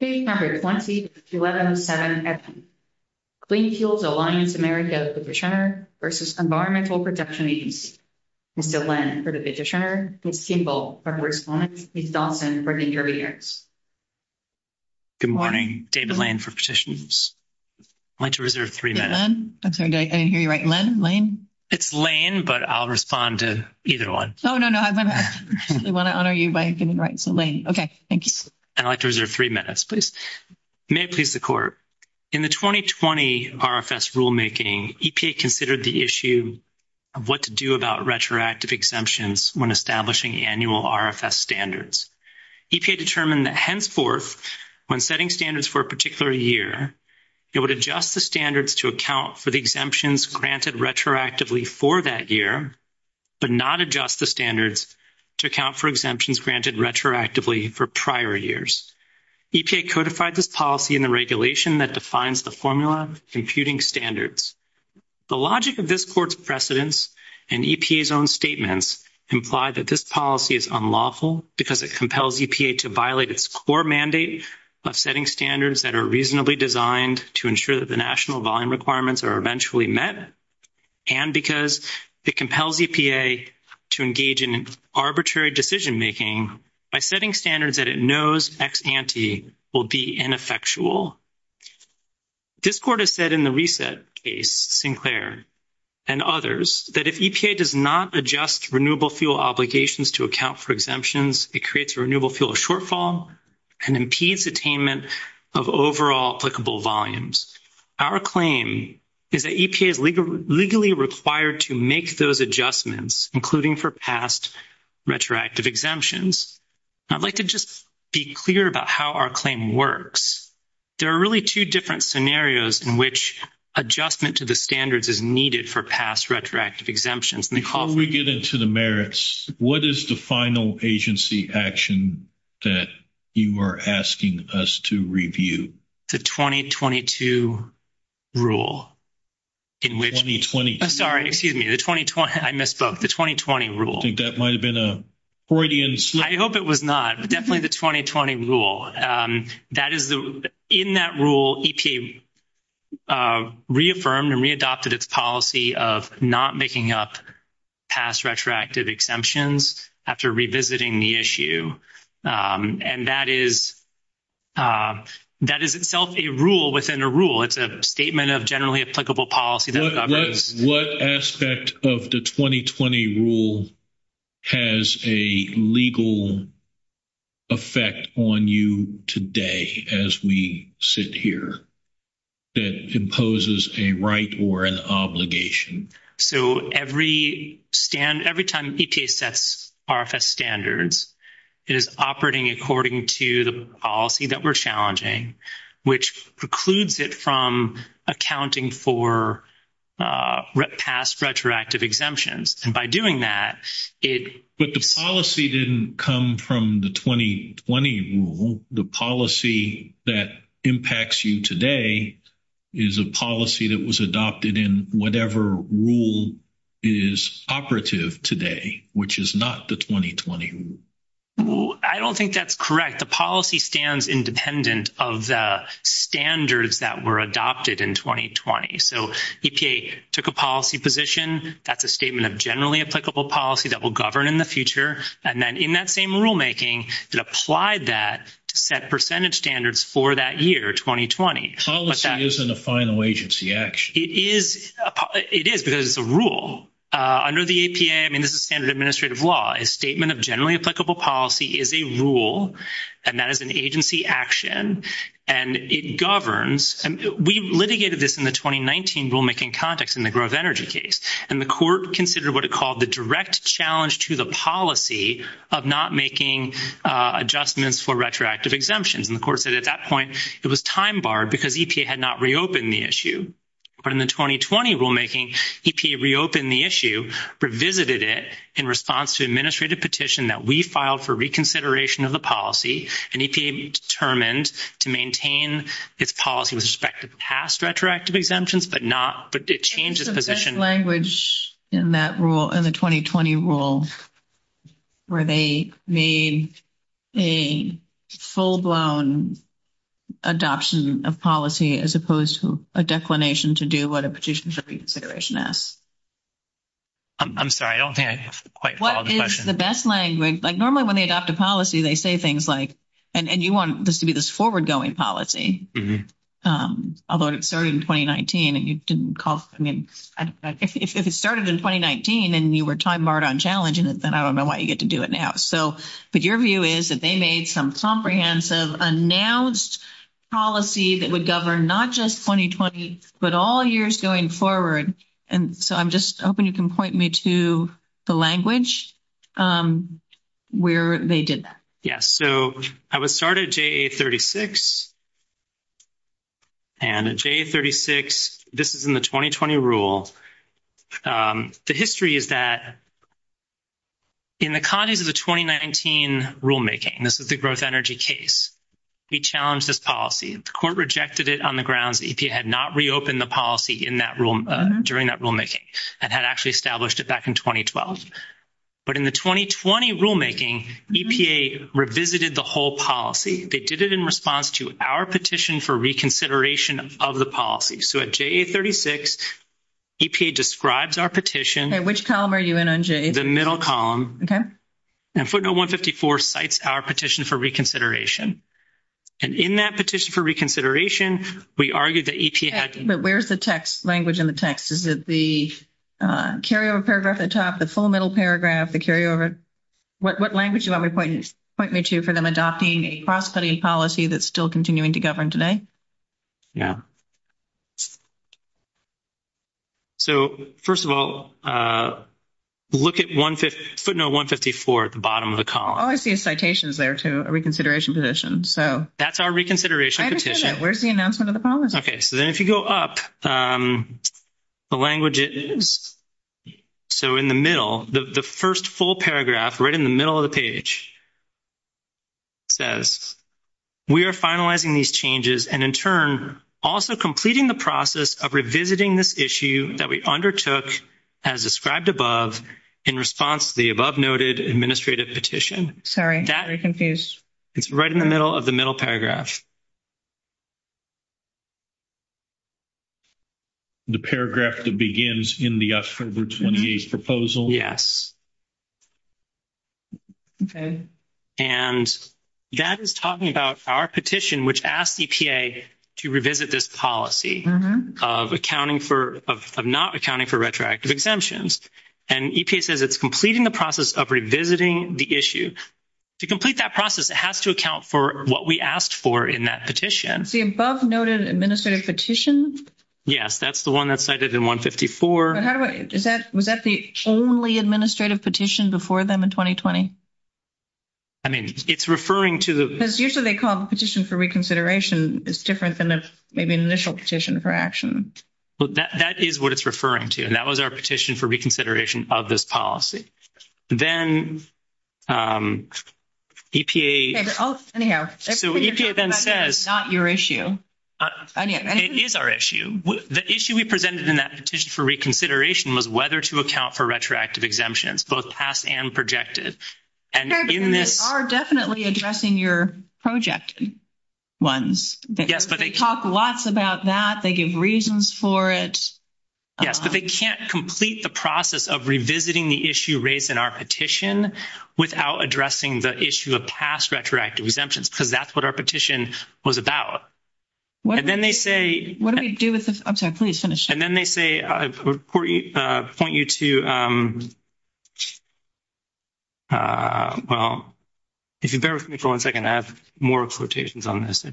Number 20, 11, 7. Clean fuels alliance America versus environmental protection agency. For the petitioner, it's simple. It's often for interviews. Good morning, David lane for positions. I like to reserve 3 minutes. I'm sorry. I didn't hear you right lane lane. It's lane, but I'll respond to either 1. no, no, no, no. I want to honor you by getting right to lane. Okay. Thank you. I'd like to reserve 3 minutes. Please. May please the court in the 2020 RFS rulemaking EPA considered the issue. Of what to do about retroactive exemptions when establishing annual RFS standards determined that henceforth when setting standards for a particular year. It would adjust the standards to account for the exemptions granted retroactively for that year, but not adjust the standards to account for exemptions granted retroactively for prior years. It codified this policy in the regulation that defines the formula computing standards. The logic of this court's precedence and EPA's own statements imply that this policy is unlawful because it compels EPA to violate its core mandate of setting standards that are reasonably designed to ensure that the national volume requirements are eventually met. And because it compels EPA to engage in arbitrary decision, making by setting standards that it knows ex ante will be ineffectual. This court has said in the reset case Sinclair. And others that if EPA does not adjust renewable fuel obligations to account for exemptions, it creates a renewable fuel shortfall and impedes attainment of overall applicable volumes. Our claim is that EPA is legally required to make those adjustments, including for past. Retroactive exemptions, I'd like to just be clear about how our claim works. There are really 2 different scenarios in which adjustment to the standards is needed for past retroactive exemptions. And they call we get into the merits. What is the final agency action that you were asking us to review the 2022 rule in 2020. I'm sorry. Excuse me. The 2020. I misspoke the 2020 rule. I think that might have been a Freudian. I hope it was not definitely the 2020 rule. That is the, in that rule. Reaffirmed and readopted its policy of not making up past retroactive exemptions after revisiting the issue and that is that is itself a rule within a rule. It's a statement of generally applicable policy. What aspect of the 2020 rule has a legal effect on you today as we sit here that imposes a right or an obligation. So, every stand, every time that's RFS standards is operating, according to the policy that we're challenging, which precludes it from accounting for past retroactive exemptions and by doing that, it, but the policy didn't come from the 2020 rule, the policy that impacts you today is a policy that was adopted in whatever. Rule is operative today, which is not the 2020. I don't think that's correct. The policy stands independent of the standards that were adopted in 2020. so took a policy position. That's a statement of generally applicable policy. That will govern in the future. And then in that same rulemaking, it applied that to set percentage standards for that year. 2020. Policy isn't a final agency action. It is because it's a rule under the APA. I mean, this is standard administrative law. A statement of generally applicable policy is a rule and that is an agency action and it governs and we litigated this in the 2019 rulemaking context in the growth energy case and the court considered what it called the direct challenge to the policy of not making adjustments for retroactive exemptions. And, of course, at that point, it was time bar, because he had not reopened the issue in the 2020 rulemaking, he reopened the issue, revisited it in response to administrative petition that we filed for reconsideration of the policy and determined to maintain this policy with respect to past retroactive exemptions, but not, but it changed the position language in that rule in the 2020 rules. Where they made a full blown. Adoption of policy, as opposed to a declination to do what a petition for consideration as. I'm sorry, I don't have the best language. Like, normally, when they adopt a policy, they say things like, and you want this to be this forward going policy. Um, although it started in 2019, and you didn't call, I mean, if it started in 2019, and you were time barred on challenging it, then I don't know why you get to do it now. So, but your view is that they made some comprehensive announced policy that would govern not just 2020, but all years going forward. And so I'm just hoping you can point me to the language. Um, where they did that. Yes. So I would start at 36. And a J36, this is in the 2020 rule. The history is that in the context of the 2019 rulemaking, this is the growth energy case. We challenge this policy, the court rejected it on the grounds that he had not reopened the policy in that room during that rulemaking and had actually established it back in 2012. but in the 2020 rulemaking, EPA revisited the whole policy. They did it in response to our petition for reconsideration of the policy. So, at J36, EPA describes our petition, which column are you in on J, the middle column. And footnote 154 cites our petition for reconsideration and in that petition for reconsideration, we argued that where's the text language in the text is that the carryover paragraph atop the full middle paragraph to carry over. What language you want me to point me to for them adopting a cross study policy that's still continuing to govern today. Yeah, so 1st of all. Look at 1 footnote 154 at the bottom of the column. I see citations there to a reconsideration position. So that's our reconsideration. Where's the announcement of the policy? Okay. So then if you go up. The language is so in the middle, the 1st, full paragraph, right in the middle of the page. Says we are finalizing these changes and in turn, also completing the process of revisiting this issue that we undertook as described above in response to the above noted administrative petition. Sorry. That is right in the middle of the middle paragraph. The paragraph that begins in the proposal. Yes. Okay, and that is talking about our petition, which asked to revisit this policy of accounting for of not accounting for retroactive exemptions. And he says, it's completing the process of revisiting the issue to complete that process. It has to account for what we asked for in that petition. The above noted administrative petitions. Yes. That's the 1 that's cited in 154. How is that? Was that the only administrative petition before them in 2020? I mean, it's referring to the usually they call the petition for reconsideration is different than maybe an initial petition for action. But that is what it's referring to and that was our petition for reconsideration of this policy. Then. Um, EPA, not your issue. It is our issue the issue we presented in that petition for reconsideration was whether to account for retroactive exemptions, both past and projected. And they are definitely addressing your project. Once they talk lots about that, they give reasons for it. Yes, but they can't complete the process of revisiting the issue rates in our petition without addressing the issue of past retroactive exemptions because that's what our petition was about. And then they say, what do we do with this? Okay, please finish and then they say, I point you to. Um, well, if you bear with me for 1, 2nd, I have more quotations on this.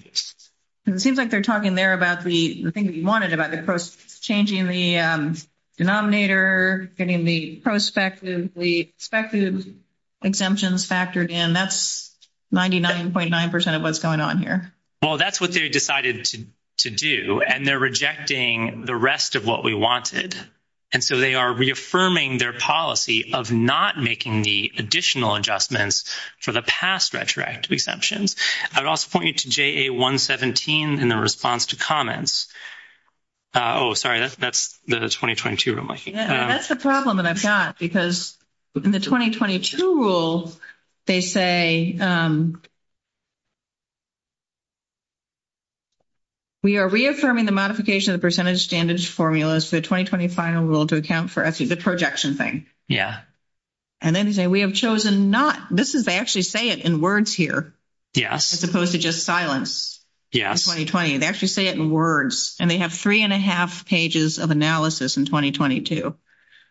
It seems like they're talking there about the thing that you wanted about the changing the denominator, getting the prospective, the expected. Exemptions factored in that's 99.9% of what's going on here. Well, that's what they decided to do and they're rejecting the rest of what we wanted. And so they are reaffirming their policy of not making the additional adjustments for the past retroactive exceptions. I would also point you to J. A. 117 in the response to comments. Oh, sorry, that's that's the 2022. that's the problem that I've got because. In the 2022 rule, they say. We are reaffirming the modification of percentage standards formulas, the 2020 final rule to account for the projection thing. Yeah. And then say, we have chosen not this is actually say it in words here as opposed to just silence 2020 and actually say it in words and they have 3 and a half pages of analysis in 2022.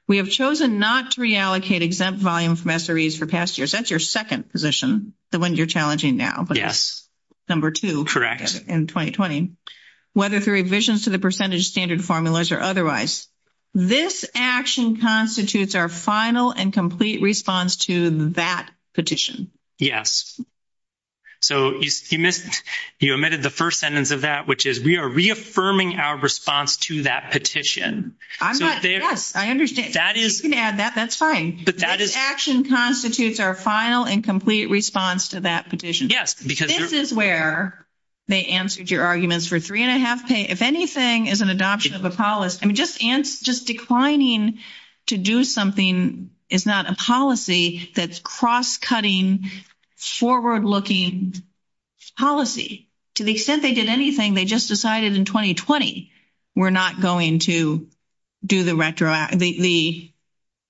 we have chosen not to reallocate exempt volume for past years. That's your 2nd position. The ones you're challenging now, but yes, number 2 correct in 2020, whether through revisions to the percentage standard formulas or otherwise. This action constitutes our final and complete response to that petition. Yes. So, you omitted the 1st sentence of that, which is we are reaffirming our response to that petition. I'm not. Yes, I understand. That is that's fine. But that is action constitutes our final and complete response to that petition. Yes, because this is where they answered your arguments for 3 and a half pay. If anything is an adoption of a policy, just just declining to do something. It's not a policy that's cross cutting forward looking policy to the extent they did anything. They just decided in 2020, we're not going to do the retroactivity.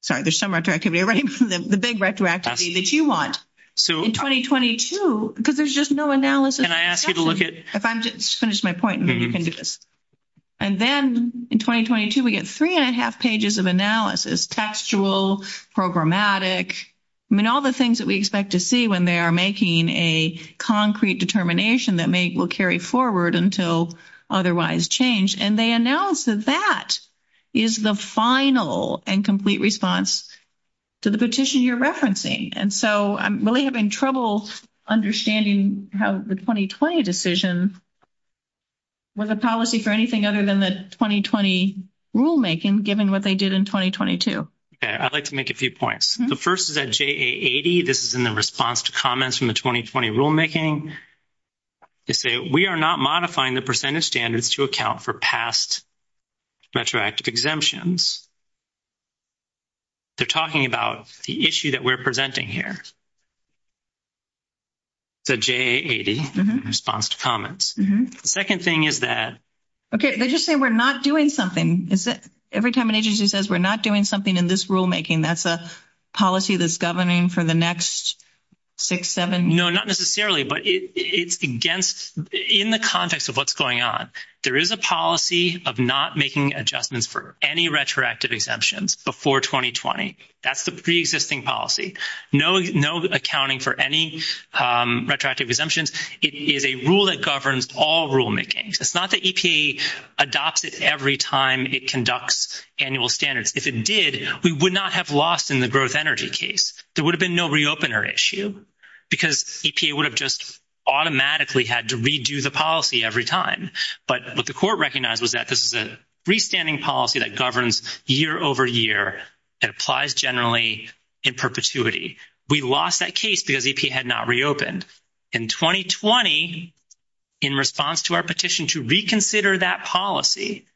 Sorry, there's some retroactivity right from the big retroactivity that you want. So, in 2022, because there's just no analysis and I asked you to look at if I'm just finished my point. And then in 2022, we get 3 and a half pages of analysis, textual programmatic. I mean, all the things that we expect to see when they are making a concrete determination that may will carry forward until otherwise change and they announced that that is the final and complete response to the petition you're referencing. And so I'm really having trouble understanding how the 2020 decision. With a policy for anything other than the 2020 rulemaking, given what they did in 2022, I'd like to make a few points. The 1st is that this is in the response to comments from the 2020 rulemaking. We are not modifying the percentage standards to account for past. Retroactive exemptions, they're talking about the issue that we're presenting here. The response to comments 2nd thing is that. Okay, they just say, we're not doing something is that every time an agency says, we're not doing something in this rulemaking. That's a policy that's governing for the next. 6, 7, no, not necessarily, but it's against in the context of what's going on. There is a policy of not making adjustments for any retroactive exemptions before 2020. that's the pre existing policy. No, no accounting for any retroactive exemptions. It is a rule that governs all rulemaking. It's not the adopted every time it conducts annual standards. If it did, we would not have lost in the gross energy case. There would have been no re, open or issue because it would have just automatically had to redo the policy every time. But what the court recognizes that this is a free standing policy that governs year over year. It applies generally in perpetuity. We lost that case because he had not reopened in 2020. In response to our petition to reconsider that policy.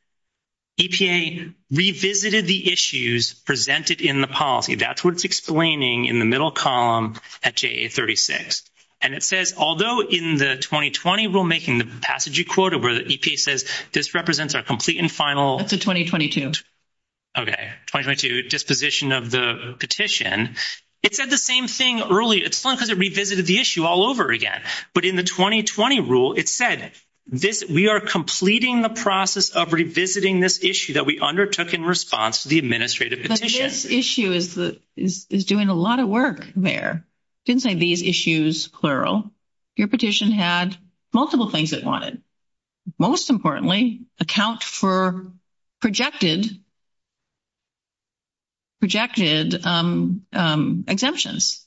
EPA revisited the issues presented in the policy. That's what it's explaining in the middle column at 36 and it says, although in the 2020, we're making the passage you quoted where the EPA says this represents our complete and final to 2022. Okay, just position of the petition. It said the same thing early. It's fun because it revisited the issue all over again. But in the 2020 rule, it said this, we are completing the process of revisiting this issue that we undertook in response to the administrative issue is doing a lot of work there. Inside these issues, plural, your petition had multiple things that wanted most importantly account for projected. Projected exemptions.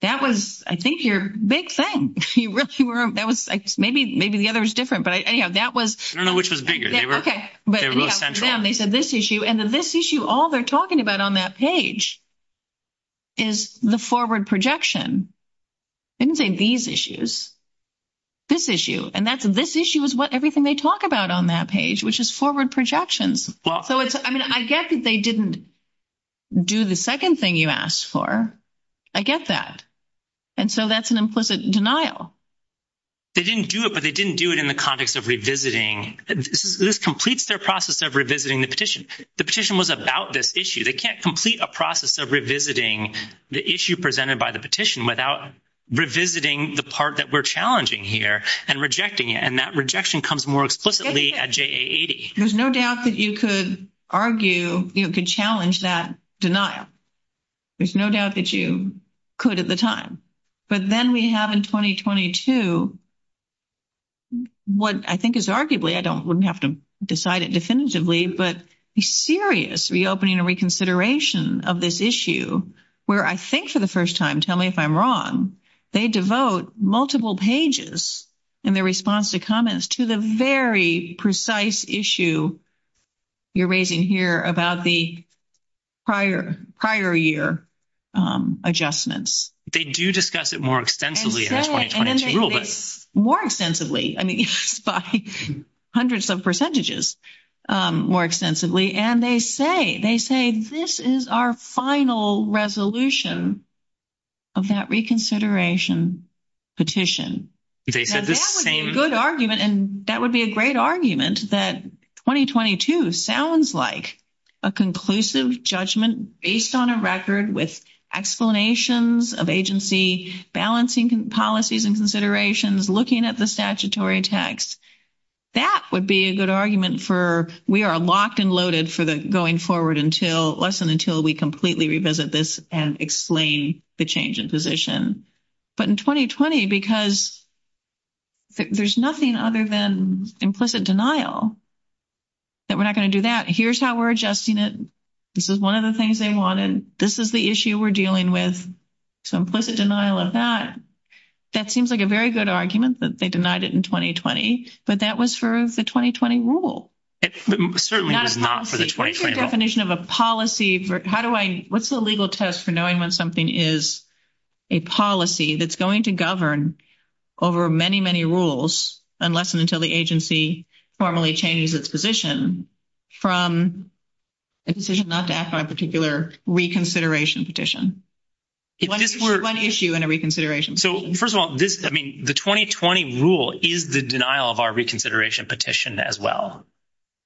That was, I think you're big thing that was maybe maybe the other is different, but that was, I don't know, which was bigger. Okay, but they said this issue and this issue all they're talking about on that page. Is the forward projection. These issues this issue, and that's this issue is what everything they talk about on that page, which is forward projections. Well, I mean, I guess they didn't. Do the 2nd thing you asked for, I guess that. And so that's an implicit denial. They didn't do it, but they didn't do it in the context of revisiting. This completes their process of revisiting the petition. The petition was about this issue. They can't complete a process of revisiting the issue presented by the petition without revisiting the part that we're challenging here and rejecting it. And that rejection comes more explicitly at. There's no doubt that you could argue, you could challenge that denial. There's no doubt that you could at the time, but then we have in 2022, what I think is arguably, I don't have to decide it definitively, but serious reopening and reconsideration of this issue where I think for the 1st time. And tell me if I'm wrong, they devote multiple pages and their response to comments to the very precise issue. You're raising here about the prior prior year adjustments. They do discuss it more extensively more extensively and hundreds of percentages more extensively. And they say, they say, this is our final resolution of that reconsideration petition argument. And that would be a great argument that 2022 sounds like a conclusive judgment based on a record with explanations of agency balancing policies and considerations looking at the statutory text. That would be a good argument for we are locked and loaded for the going forward until less than until we completely revisit this and explain the change in position. But in 2020, because there's nothing other than implicit denial that we're not going to do that. Here's how we're adjusting it. This is 1 of the things they wanted. This is the issue we're dealing with. So, implicit denial of that, that seems like a very good argument, but they denied it in 2020, but that was for the 2020 rule definition of a policy for how do I what's the legal test for knowing when something is a policy that's going to govern over many, many rules unless and until the agency formally changes its position from a decision not to ask for a particular reconsideration petition. It is for an issue and a reconsideration. So, 1st of all, this, I mean, the 2020 rule is the denial of our reconsideration petition as well.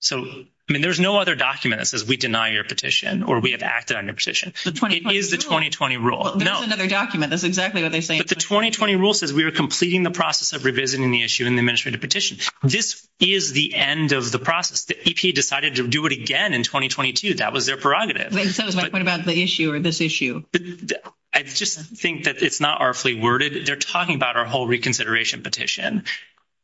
So, I mean, there's no other documents as we deny your petition, or we have acted on your position. It is the 2020 rule document. That's exactly what they say. But the 2020 rule says we are completing the process of revisiting the issue in the administrative petition. This is the end of the process. The EP decided to do it again in 2022. that was their prerogative. What about the issue or this issue? I just think that it's not our free worded. They're talking about our whole reconsideration petition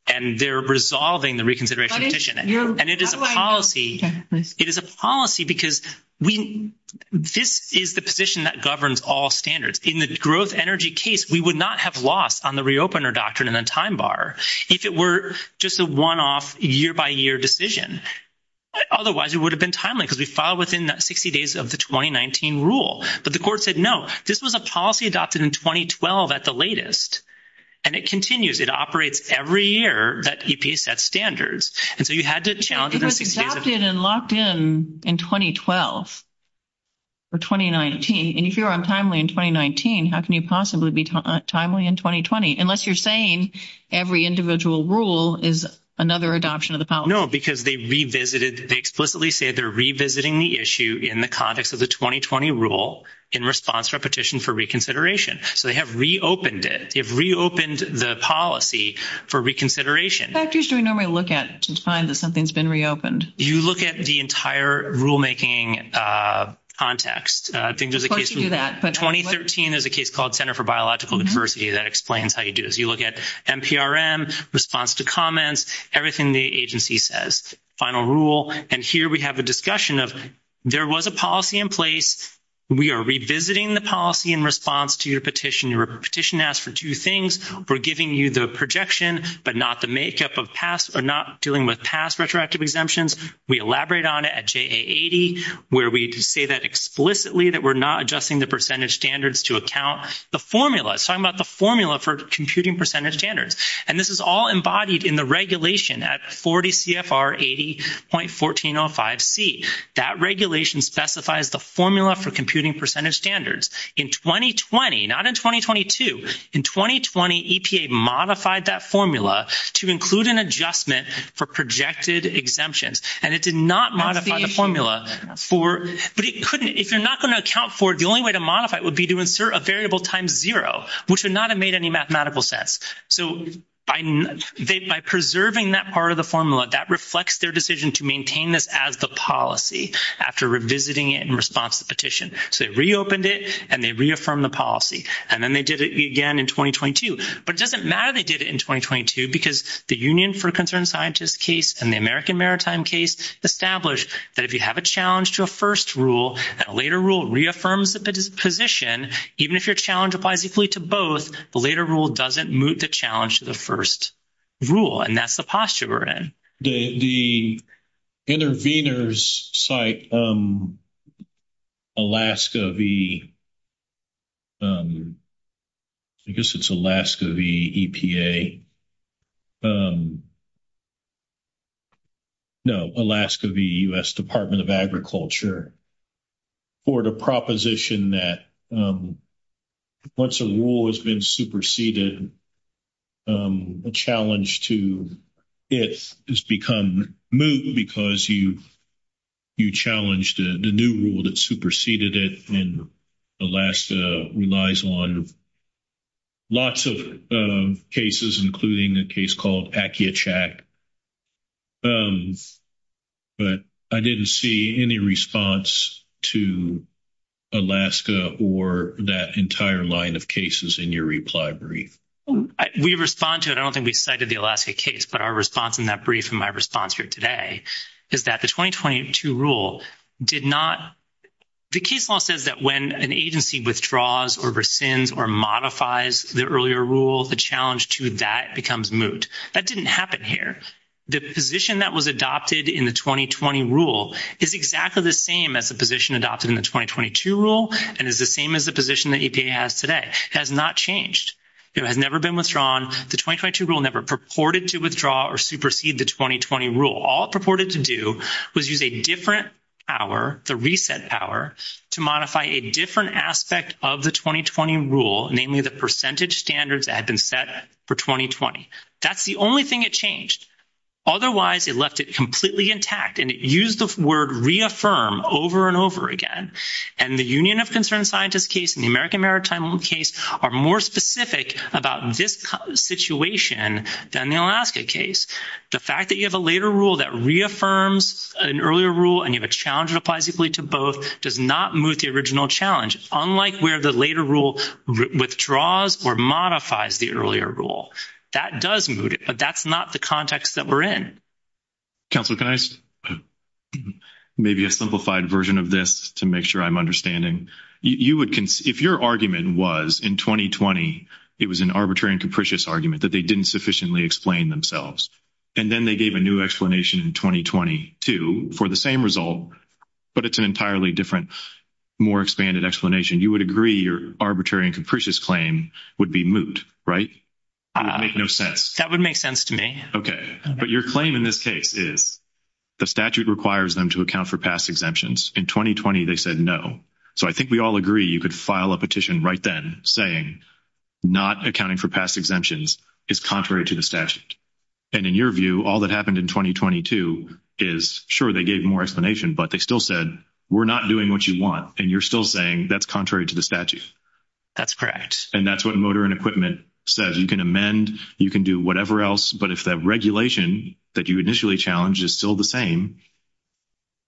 and they're resolving the reconsideration and it is a policy. It is a policy because we, this is the position that governs all standards in the growth energy case. We would not have lost on the reopener doctrine in a time bar if it were just a 1 off year by year decision. Otherwise, it would have been timely because we filed within 60 days of the 2019 rule. but the court said, no, this was a policy adopted in 2012 at the latest and it continues. It operates every year that EP set standards. And so you had to challenge it and locked in in 2012 or 2019 and if you're untimely in 2019, how can you possibly be? Timely in 2020, unless you're saying every individual rule is another adoption of the power because they revisited. They explicitly say they're revisiting the issue in the context of the 2020 rule in response for petition for reconsideration. So, they have reopened it if reopened the policy for reconsideration factors to normally look at to find that something's been reopened. You look at the entire rulemaking context. I think there's a case 2013 is a case called center for biological diversity. That explains how you do as you look at response to comments, everything the agency says final rule. And here we have a discussion of there was a policy in place. We are revisiting the policy in response to your petition petition asked for 2 things. We're giving you the projection, but not the makeup of past or not dealing with past retroactive exemptions. We elaborate on it at 80, where we say that explicitly that we're not adjusting the percentage standards to account the formula. So, I'm about the formula for computing percentage standards. And this is all embodied in the regulation at 40 CFR, 80.14.05 C. that regulation specifies the formula for computing percentage standards in 2020, not in 2022 in 2020, EPA modified that formula to include an adjustment for projected exemptions. And it did not modify the formula for, but it couldn't, if you're not going to account for the only way to modify it would be to insert a variable times 0, which would not have made any mathematical sense. So, by preserving that part of the formula that reflects their decision to maintain this as the policy after revisiting it in response to petition. So, it reopened it and they reaffirm the policy and then they did it again in 2022, but it doesn't matter. But they did it in 2022, because the Union for Concerned Scientists case and the American Maritime case established that if you have a challenge to a 1st rule, that later rule reaffirms the position, even if your challenge applies equally to both, the later rule doesn't move the challenge to the 1st rule. And that's the posture we're in. The intervenors site, Alaska, the. I guess it's Alaska, the EPA. No, Alaska, the US Department of agriculture. Or the proposition that once a rule has been superseded. A challenge to it has become moved because you. You challenged the new rule that superseded it and the last relies on. Lots of cases, including the case called. But I didn't see any response to. Alaska, or that entire line of cases in your reply brief, we respond to it. I don't think we cited the Alaska case, but our response in that brief. And my response here today is that the 2022 rule did not. The case law says that when an agency withdraws or rescinds or modifies the earlier rule, the challenge to that becomes moot. That didn't happen here. The position that was adopted in the 2020 rule is exactly the same as the position adopted in the 2022 rule and is the same as the position that has today has not changed. It had never been withdrawn. The 2022 rule never purported to withdraw or supersede the 2020 rule. All purported to do was use a different hour, the reset power to modify a different aspect of the 2020 rule, namely the percentage standards that had been set for 2020. That's the only thing that changed. Otherwise, it left it completely intact and it used the word reaffirm over and over again. And the Union of concerned scientists case in the American maritime case are more specific about this situation than the Alaska case. The fact that you have a later rule that reaffirms an earlier rule, and you have a challenge that applies equally to both does not move the original challenge. Unlike where the later rule withdraws or modifies the earlier rule that doesn't move it. But that's not the context that we're in. Maybe a simplified version of this to make sure I'm understanding you would, if your argument was in 2020, it was an arbitrary and capricious argument that they didn't sufficiently explain themselves. And then they gave a new explanation in 2022 for the same result, but it's an entirely different, more expanded explanation. You would agree your arbitrary and capricious claim would be moot. Right? I don't make no sense. That would make sense to me. Okay. But your claim in this case is. The statute requires them to account for past exemptions in 2020. they said no. so I think we all agree. You could file a petition right then saying. Not accounting for past exemptions is contrary to the statute and in your view, all that happened in 2022 is sure. They gave more explanation, but they still said, we're not doing what you want. And you're still saying that's contrary to the statute. That's correct. And that's what motor and equipment says you can amend. You can do whatever else. But if that regulation that you initially challenge is still the same.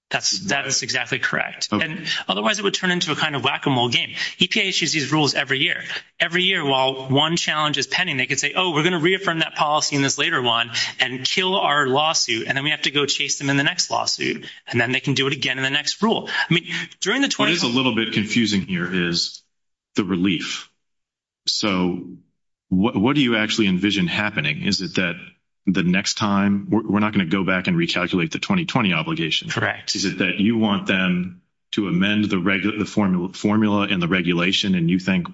That's that is exactly correct. And otherwise it would turn into a kind of whack a mole game issues these rules every year every year. While 1 challenge is pending, they can say, oh, we're going to reaffirm that policy in this later 1 and kill our lawsuit. And then we have to go chase them in the next lawsuit, and then they can do it again in the next rule. I mean, during the 12th, a little bit confusing here is the relief. So, what do you actually envision happening? Is it that the next time we're not going to go back and recalculate the 2020 obligation? Correct? Is it that you want them to amend the regular formula formula and the regulation? And you think,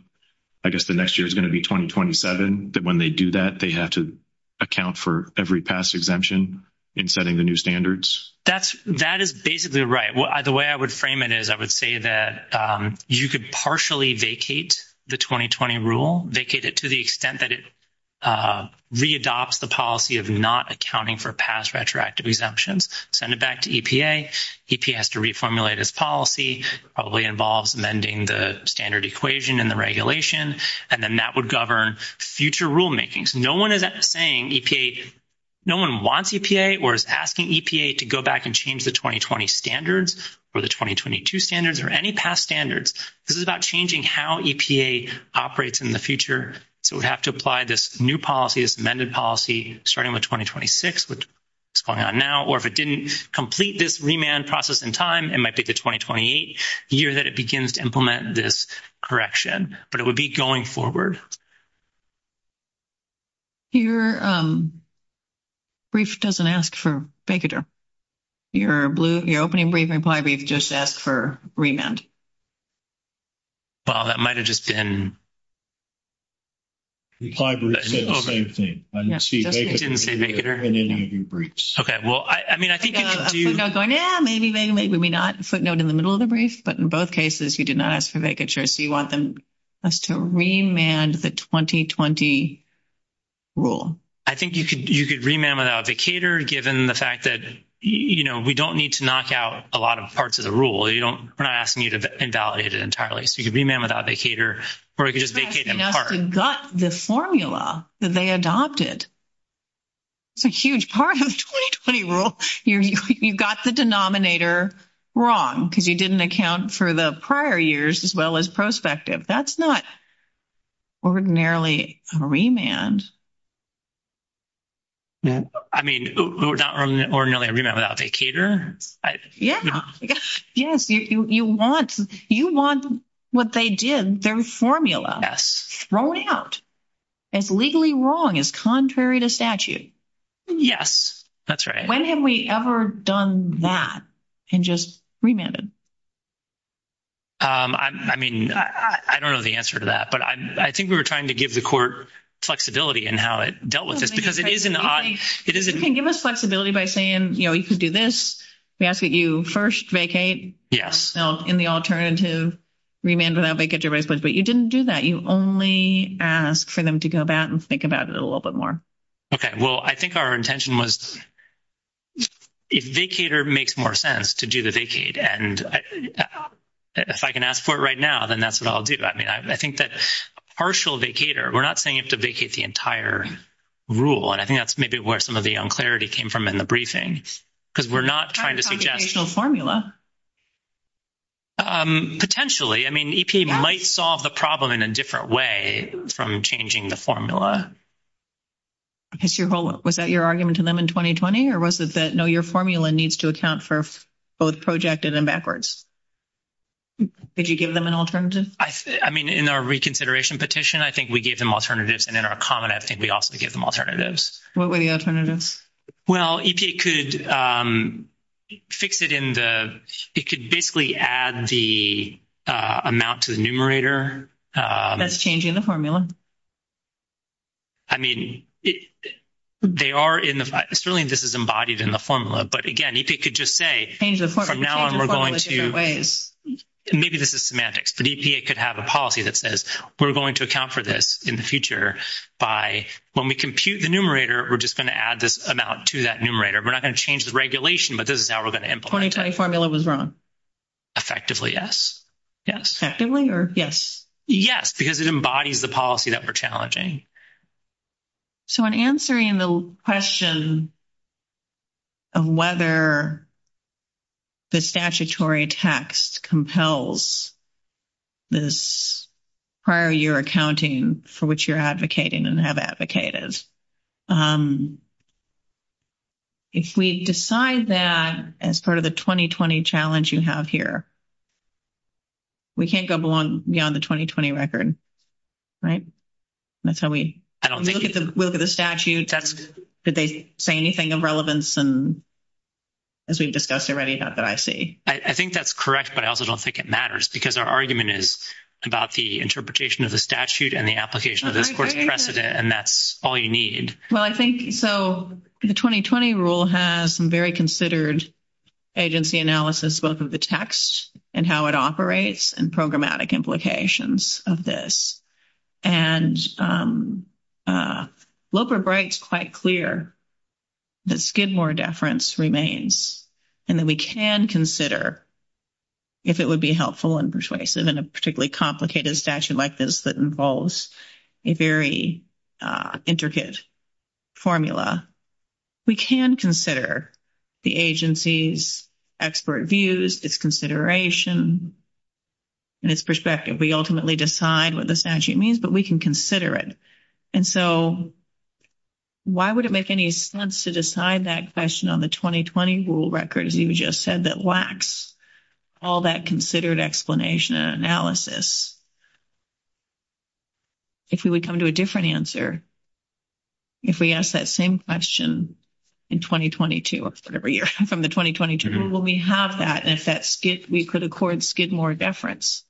I guess, the next year is going to be 2027 that when they do that, they have to account for every past exemption in setting the new standards. That's that is basically right. The way I would frame it is, I would say that you could partially vacate the 2020 rule vacated to the extent that it re, adopts the policy of not accounting for past retroactive exemptions, send it back to has to reformulate his policy probably involves amending the standard equation and the regulation. And then that would govern future rulemaking. So no, 1 of that saying, no, 1 wants or is asking to go back and change the 2020 standards or the 2022 standards or any past standards. This is about changing how operates in the future. So we have to apply this new policy as amended policy starting with 2026. What's going on now, or if it didn't complete this remand process in time, it might take the 2028 year that it begins to implement this correction, but it would be going forward. Your brief doesn't ask for your blue, your opening briefing probably just ask for remand. Well, that might have just been. The same thing. Okay. Well, I mean, I think maybe, maybe, maybe not footnote in the middle of the brief, but in both cases, you did not ask for vacatures. So you want them to remand the 2020. Rule, I think you could, you could remain without a cater given the fact that, you know, we don't need to knock out a lot of parts of the rule. You don't, we're not asking you to invalidate it entirely. So you can be man without a cater or you can just vacate the formula that they adopted. It's a huge part of the rule. You've got the denominator wrong because you didn't account for the prior years as well as prospective. That's not ordinarily remand. I mean, we're not really a remand without a cater. Yeah, yes, you want you want what they did their formula rolling out as legally wrong as contrary to statute. Yes. That's right. When have we ever done that? And just remember, I mean, I don't know the answer to that, but I think we were trying to give the court flexibility and how it dealt with this because it isn't it isn't give us flexibility by saying, you know, you can do this. We ask that you 1st vacate in the alternative remains and I'll make it to replace, but you didn't do that. You only ask for them to go back and think about it a little bit more. Okay, well, I think our intention was, it makes more sense to do the vacate. And if I can ask for it right now, then that's what I'll do. I mean, I think that partial vacator, we're not saying to vacate the entire rule. And I think that's maybe where some of the unclarity came from in the briefing, because we're not trying to formula potentially. I mean, might solve the problem in a different way from changing the formula. Because your whole was that your argument to them in 2020, or was it that no, your formula needs to account for both projected and backwards. Did you give them an alternative? I mean, in our reconsideration petition, I think we gave them alternatives and in our comment, I think we also give them alternatives. What were the alternatives? Well, it could fix it in the, it could basically add the amount to the numerator. That's changing the formula. I mean, they are in the, certainly this is embodied in the formula, but again, you could just say, now, and we're going to maybe this is semantics, but he could have a policy that says, we're going to account for this in the future by when we compute the numerator. We're just going to add this amount to that numerator. We're not going to change the regulation, but this is how we're going to implement formula was wrong. Effectively, yes, or yes, yes, because it embodies the policy that we're challenging. So, in answering the question. And whether the statutory text compels this prior year accounting for which you're advocating and have advocated. Um, if we decide that as part of the 2020 challenge, you have here. We can't go beyond the 2020 record. Right that's how we look at the look of the statute. That's did they say anything of relevance and. As we've discussed already, not that I see, I think that's correct, but I also don't think it matters because our argument is about the interpretation of the statute and the application of the precedent and that's all you need. Well, I think so the 2020 rule has some very considered agency analysis, both of the text and how it operates and programmatic implications of this. And Loper breaks quite clear. Let's give more deference remains and then we can consider. If it would be helpful and persuasive and a particularly complicated statute like this that involves a very intricate formula. We can consider the agency's expert views if consideration. And it's perspective, we ultimately decide what the statute means, but we can consider it. And so why would it make any sense to decide that question on the 2020 rule records? You just said that lacks all that considered explanation and analysis. If we would come to a different answer. If we ask that same question in 2022, whatever year from the 2022, will we have that? And if that's good, we could get more deference.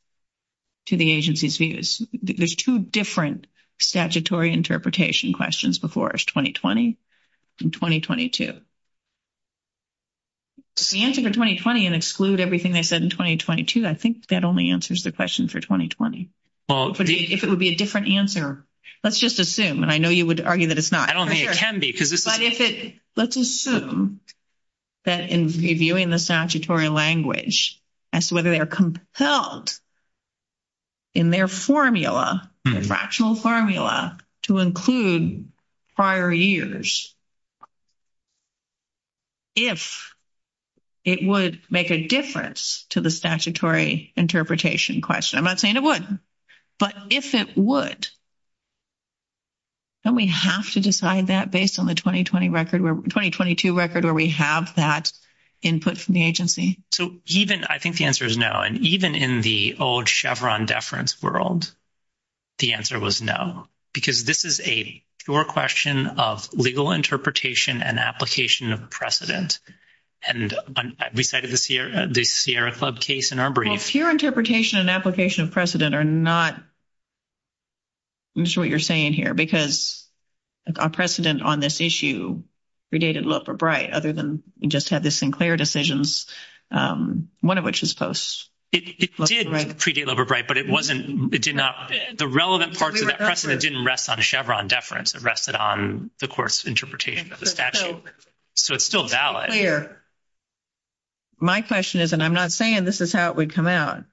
To the agency's views, there's 2 different statutory interpretation questions before 2020. In 2022, the answer to 2020 and exclude everything they said in 2022. I think that only answers the question for 2020. Well, if it would be a different answer, let's just assume and I know you would argue that it's not. I don't have to let's assume. That in reviewing the statutory language as to whether they are compelled. In their formula, fractional formula to include. Prior years, if. It would make a difference to the statutory interpretation question. I'm not saying it would, but if it would. And we have to decide that based on the 2020 record where 2022 record where we have that input from the agency. So even I think the answer is no. And even in the old Chevron deference world. The answer was no, because this is a your question of legal interpretation and application of precedent and decided this year, the Sierra Club case in our brief interpretation and application of precedent or not. I'm sure what you're saying here, because a precedent on this issue. We did it look for bright other than just have the Sinclair decisions. 1 of which is post, but it wasn't it did not the relevant parts of that precedent didn't rest on a Chevron deference. It rested on the course interpretation. So, it's still valid here. My question is, and I'm not saying this is how it would come out.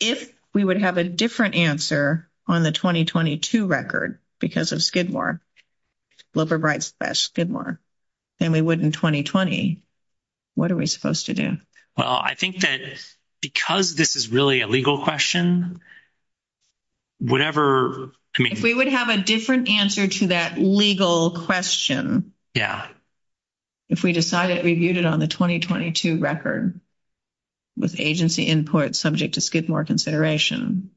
If we would have a different answer on the 2022 record, because it's good more. Well, for bright, good more than we would in 2020. What are we supposed to do? Well, I think that because this is really a legal question. Whatever we would have a different answer to that legal question. Yeah. If we decided we viewed it on the 2022 record. With agency import subject to skip more consideration.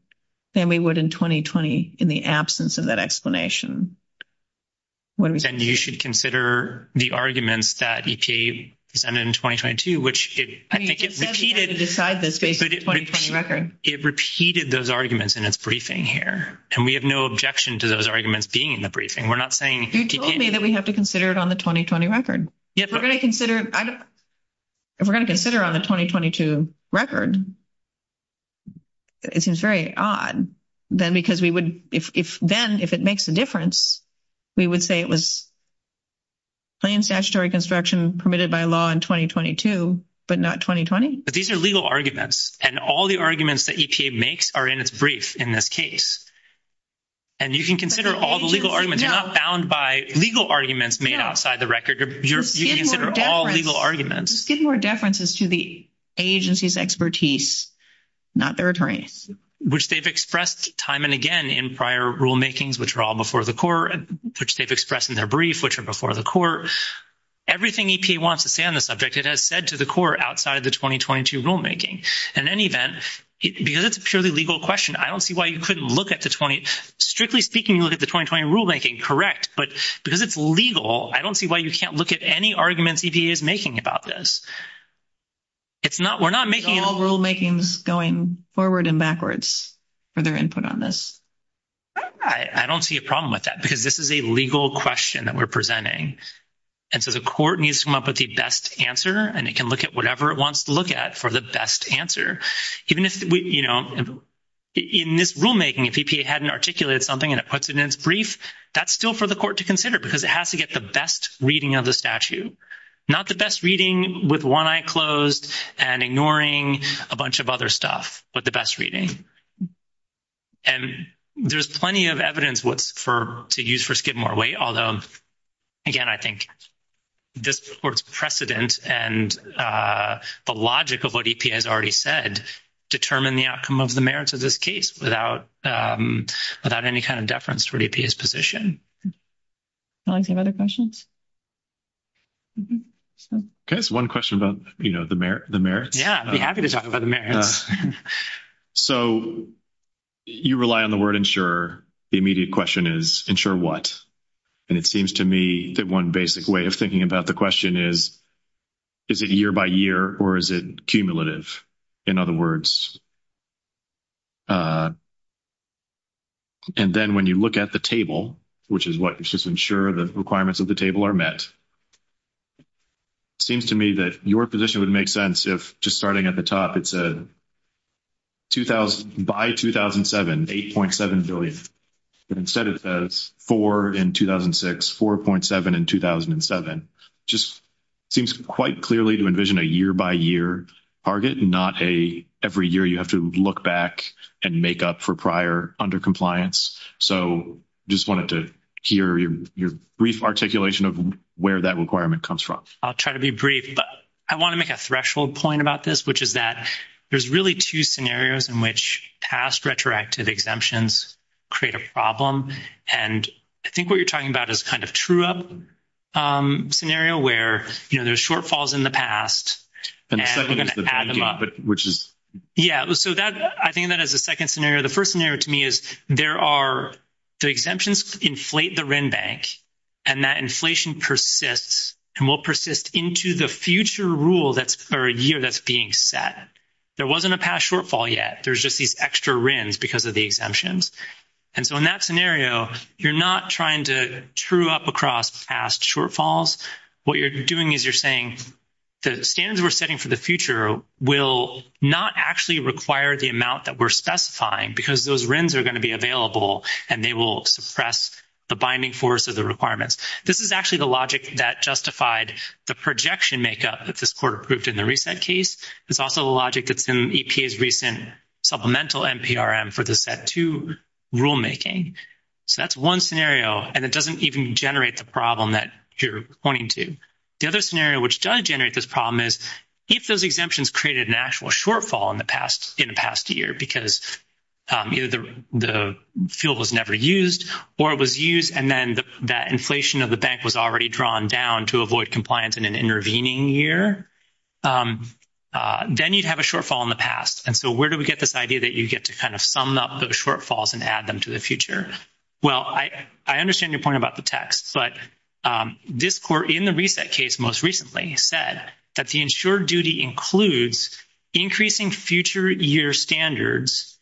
And we would in 2020 in the absence of that explanation. What do we should consider the arguments that EPA in 2022, which I think it decided this record, it repeated those arguments in a briefing here. And we have no objection to those arguments being in the briefing. We're not saying that we have to consider it on the 2020 record. Yes, we're going to consider we're going to consider on the 2022 record. It seems very odd then, because we would, if then, if it makes a difference. We would say it was plain statutory construction permitted by law in 2022, but not 2020, but these are legal arguments and all the arguments that EPA makes are in its brief in this case. And you can consider all the legal arguments are not bound by legal arguments made outside the record. You're all legal arguments. Give more differences to the agency's expertise. Not their attorney, which they've expressed time and again in prior rulemakings, which are all before the core, which they've expressed in their brief, which are before the court. Everything wants to stay on the subject. It has said to the core outside the 2022 rulemaking in any event, because it's purely legal question. I don't see why you couldn't look at the 20 strictly speaking. You look at the 2020 rulemaking. Correct. But because it's legal, I don't see why you can't look at any arguments EPA is making about this. It's not we're not making rulemakings going forward and backwards. For their input on this, I don't see a problem with that because this is a legal question that we're presenting. And so the court needs to come up with the best answer, and it can look at whatever it wants to look at for the best answer. Even if we, you know. In this rulemaking, if he hadn't articulated something, and it puts it in its brief, that's still for the court to consider because it has to get the best reading of the statute. Not the best reading with why closed and ignoring a bunch of other stuff, but the best reading. And there's plenty of evidence what's for to use for skip more weight. Although again, I think this precedent and the logic of what he has already said, determine the outcome of the merits of this case without without any kind of deference for his position. Any other questions. Okay, so 1 question about the merit the merit. Yeah, I'd be happy to talk about the. So, you rely on the word ensure the immediate question is ensure what. And it seems to me that 1 basic way of thinking about the question is. Is it year by year or is it cumulative? In other words, uh. And then when you look at the table, which is what just ensure the requirements of the table are met. Seems to me that your position would make sense if just starting at the top. It's a. 2000 by 2007, 8.7 billion. Instead of 4 in 2006, 4.7 in 2007, just. Seems quite clearly to envision a year by year target, not a every year. You have to look back and make up for prior under compliance. So just wanted to hear your brief articulation of where that requirement comes from. I'll try to be brief, but I want to make a threshold point about this, which is that there's really 2 scenarios in which past retroactive exemptions. Create a problem, and I think what you're talking about is kind of true up. Um, scenario where there's shortfalls in the past, which is yeah. So that I think that is the 2nd scenario. The 1st scenario to me is there are. The exemptions inflate the bank and that inflation persists and will persist into the future rule. That's for a year. That's being set. There wasn't a past shortfall yet. There's just these extra rims because of the exemptions. And so, in that scenario, you're not trying to true up across past shortfalls. What you're doing is you're saying. The standards we're setting for the future will not actually require the amount that we're specifying, because those rooms are going to be available and they will suppress the binding force of the requirements. This is actually the logic that justified the projection makeup that this court approved in the recent case. It's also a logic that's in EPA's recent supplemental and PRM for the set to rulemaking. So, that's 1 scenario, and it doesn't even generate the problem that you're pointing to the other scenario, which does generate this problem is if those exemptions created an actual shortfall in the past in the past year, because either the fuel was never used, or it was used. And then that inflation of the bank was already drawn down to avoid compliance in an intervening year, then you'd have a shortfall in the past. And so, where do we get this idea that you get to kind of sum up the shortfalls and add them to the future? Well, I, I understand your point about the text, but this core in the reset case, most recently said that the ensure duty includes increasing future year standards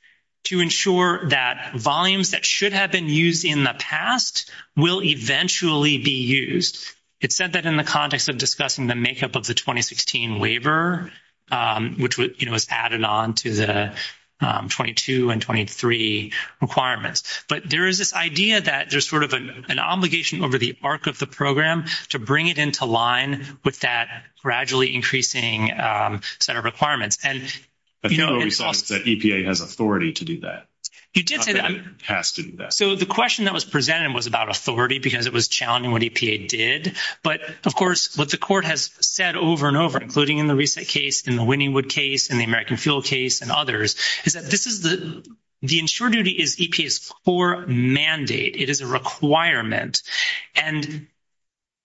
to ensure that volumes that should have been used in the past will eventually be used. It said that in the context of discussing the makeup of the 2016 waiver, which was added on to the 22 and 23 requirements, but there is this idea that there's sort of an obligation over the arc of the program to bring it into line with that gradually increasing set of requirements. And the EPA has authority to do that has to do that. So the question that was presented was about authority, because it was challenging what EPA did. But, of course, what the court has said over and over, including in the recent case in the winning would case and the American fuel case and others is that this is the ensure duty is EPA's core mandate. It is a requirement and.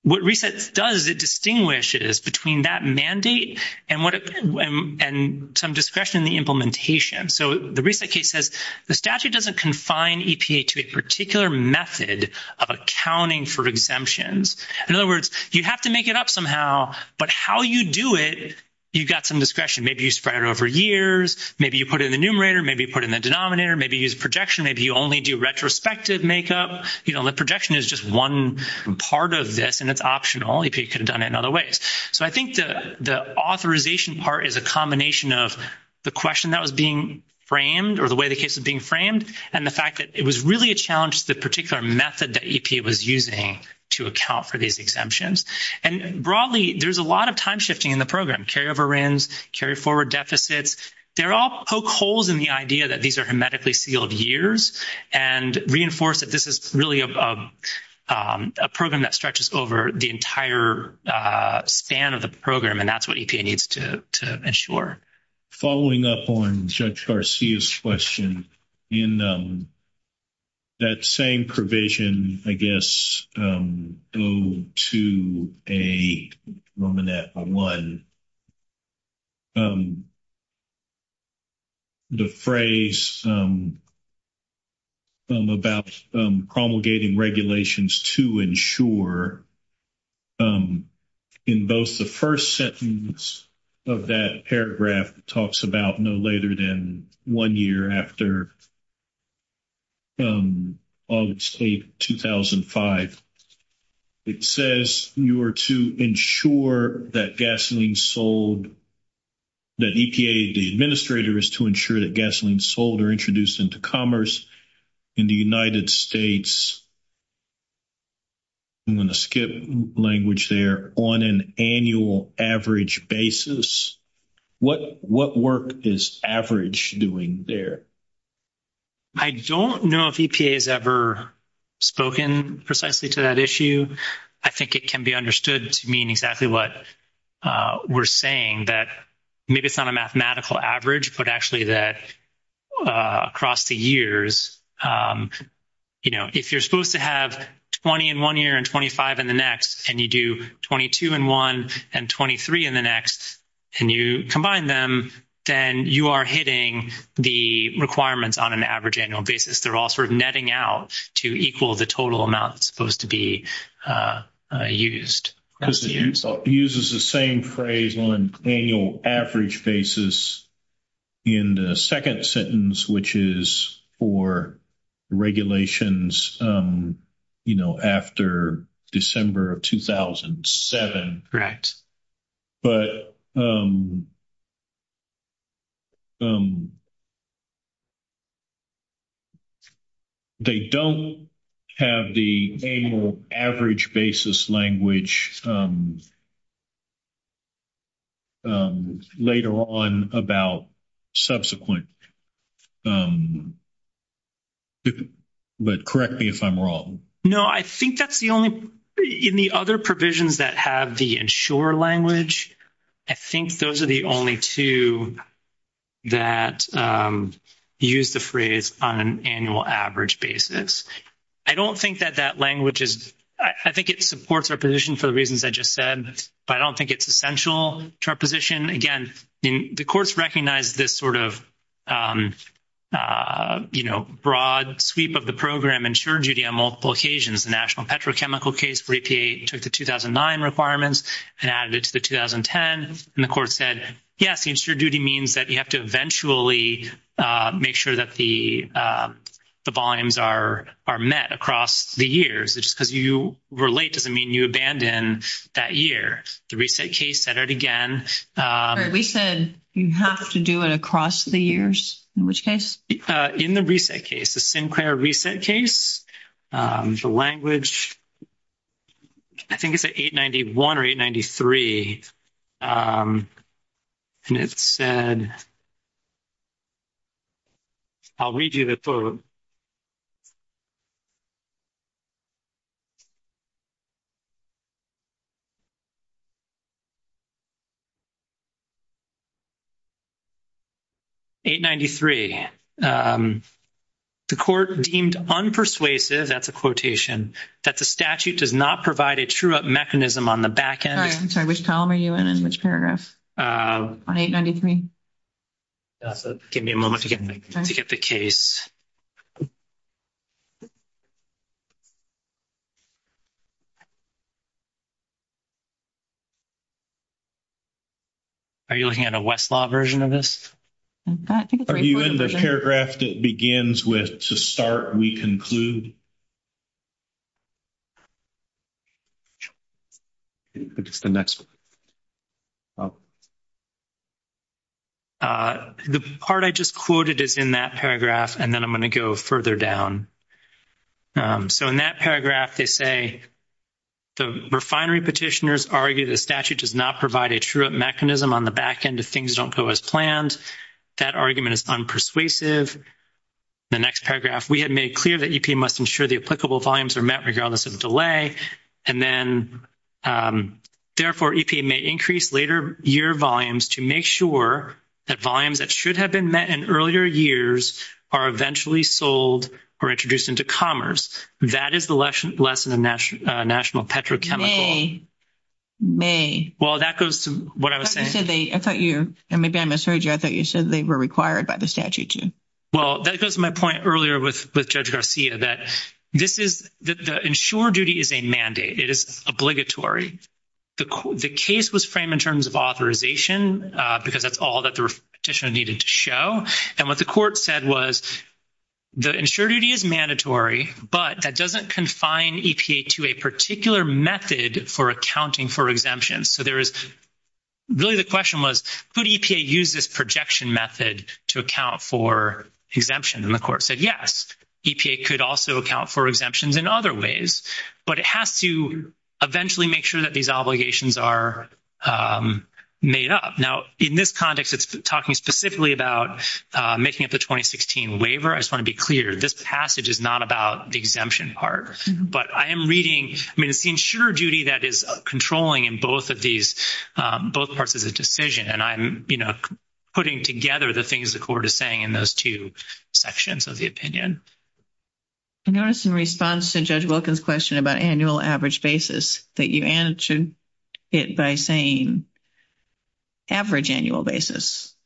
What resets does it distinguish is between that mandate and what and some discretion in the implementation. So the recent case says the statute doesn't confine EPA to a particular method of accounting for exemptions. In other words, you have to make it up somehow, but how you do it, you've got some discretion. Maybe you spread over years. Maybe you put in the numerator. Maybe put in the denominator. Maybe use projection. If you only do retrospective makeup, the projection is just 1 part of this and it's optional. You could have done it in other ways. So, I think the authorization part is a combination of the question that was being framed or the way the case is being framed and the fact that it was really a challenge to the particular method that EPA was using to account for these exemptions and broadly, there's a lot of time shifting in the program, carry over ends, carry forward deficits. They're all poke holes in the idea that these are hermetically sealed years and reinforce that. This is really a program that stretches over the entire span of the program. And that's what needs to ensure following up on question in. That same provision, I guess, go to a moment that 1. The phrase about promulgating regulations to ensure in both the 1st sentence of that paragraph talks about no later than 1 year after August 8, 2005, it says you are to ensure that gasoline sold. That EPA, the administrator is to ensure that gasoline sold or introduced into commerce in the United States. I'm going to skip language there on an annual average basis. What what work is average doing there? I don't know if he has ever. Spoken precisely to that issue. I think it can be understood to mean exactly what. Uh, we're saying that maybe it's not a mathematical average, but actually that. Across the years, you know, if you're supposed to have 20 in 1 year and 25 in the next, and you do 22 and 1 and 23 in the next. And you combine them, then you are hitting the requirements on an average annual basis. They're all sort of netting out to equal the total amount supposed to be used because it uses the same phrase on annual average basis. In the 2nd sentence, which is for. Regulations, you know, after December of 2007, right? But. They don't have the annual average basis language. Later on about subsequent. But correct me if I'm wrong. No, I think that's the only in the other provisions that have the ensure language. I think those are the only 2 that use the phrase on an annual average basis. I don't think that that language is, I think it supports our position for the reasons I just said, but I don't think it's essential to our position again. The courts recognize this sort of. Uh, you know, broad sweep of the program, ensure duty on multiple occasions, the national petrochemical case for APA took the 2009 requirements and added it to the 2010 and the court said, yes, ensure duty means that you have to eventually make sure that the. The volumes are are met across the years, because you relate to the mean, you abandon that year to reset case that it again, we said you have to do it across the years in which case in the reset case. The same reset case, the language. I think it's a 891 or 893 and it said. I'll read you the. 893, the court deemed on persuasive. That's a quotation that the statute does not provide a true mechanism on the back end. Sorry. Which column are you in? Which paragraph? Uh, on 893 give me a moment to get to get the case. Are you looking at a Westlaw version of this? Are you in the paragraph that begins with to start? We conclude. Okay, the next one. The part I just quoted is in that paragraph and then I'm going to go further down. So, in that paragraph, they say the refinery petitioners argue the statute does not provide a true mechanism on the back end of things. Don't go as planned. That argument is on persuasive. The next paragraph, we had made clear that you must ensure the applicable volumes are met regardless of delay and then therefore may increase later year volumes to make sure that volumes that should have been met in earlier years are eventually sold or introduced into commerce. That is the lesson lesson and national petrochemical may well, that goes to what I thought you and maybe I misheard you. I thought you said they were required by the statute. Well, that goes to my point earlier with with judge Garcia that this is the ensure duty is a mandate. It is obligatory. The case was framed in terms of authorization, because that's all that the petition needed to show. And what the court said was. The insurgency is mandatory, but that doesn't confine to a particular method for accounting for exemptions. So there is. Really, the question was, could EPA use this projection method to account for exemption? And the court said, yes, EPA could also account for exemptions in other ways, but it has to eventually make sure that these obligations are made up. Now, in this context, it's talking specifically about making it the 2016 waiver. I just want to be clear. This passage is not about the exemption part, but I am reading ensure duty. That is controlling in both of these both parts of the decision, and I'm putting together the things the court is saying in those 2 sections of the opinion response to judge Wilkins question about annual average basis that you answered it by saying average annual basis.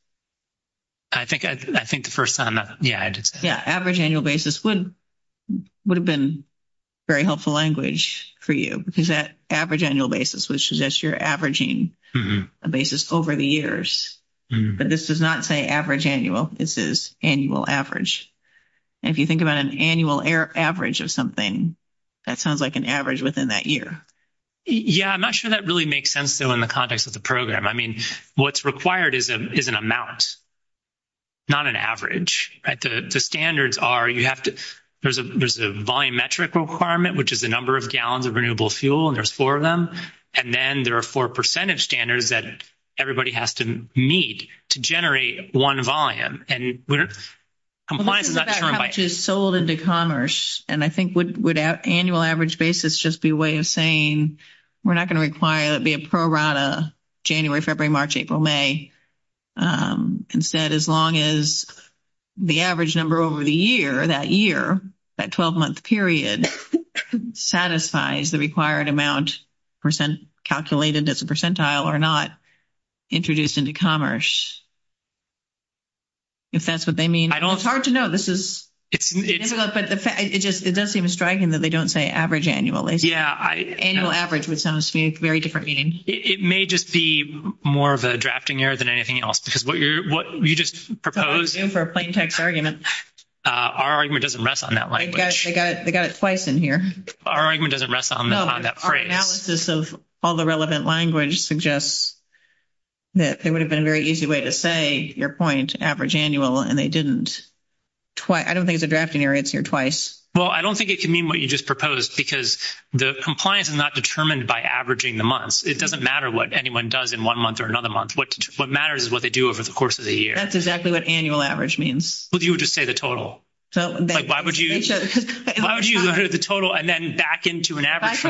I think I think the 1st time. Yeah. Yeah. Average annual basis would would have been very helpful language for you. Because that average annual basis, which is just you're averaging a basis over the years, but this does not say average annual. This is annual average. If you think about an annual air average of something that sounds like an average within that year. Yeah, I'm not sure that really makes sense. So, in the context of the program, I mean, what's required is an amount. Not an average, but the standards are, you have to there's a, there's a volumetric requirement, which is the number of gallons of renewable fuel and there's 4 of them. And then there are 4 percentage standards that everybody has to meet to generate 1 volume and. I'm sold into commerce and I think would annual average basis just be a way of saying, we're not going to require it be a program January, February, March, April, May. Instead, as long as the average number over the year, that year, that 12 month period satisfies the required amount percent calculated as a percentile or not. Introduced into commerce, if that's what they mean, I don't know. It's hard to know. This is it does seem striking that they don't say average annually. Yeah, annual average, which sounds to me very different. It may just be more of a drafting error than anything else, because what you're what you just proposed for a plain text argument doesn't rest on that. I got it twice in here. Our argument doesn't rest on that analysis of all the relevant language suggests that there would have been a very easy way to say your point average annual. And they didn't. Twice, I don't think the drafting or it's your twice. Well, I don't think it can mean what you just proposed because the compliance is not determined by averaging the months. It doesn't matter what anyone does in 1 month or another month. What matters is what they do over the course of the year. That's exactly what annual average means. Well, you would just say the total. So, why would you the total and then back into an average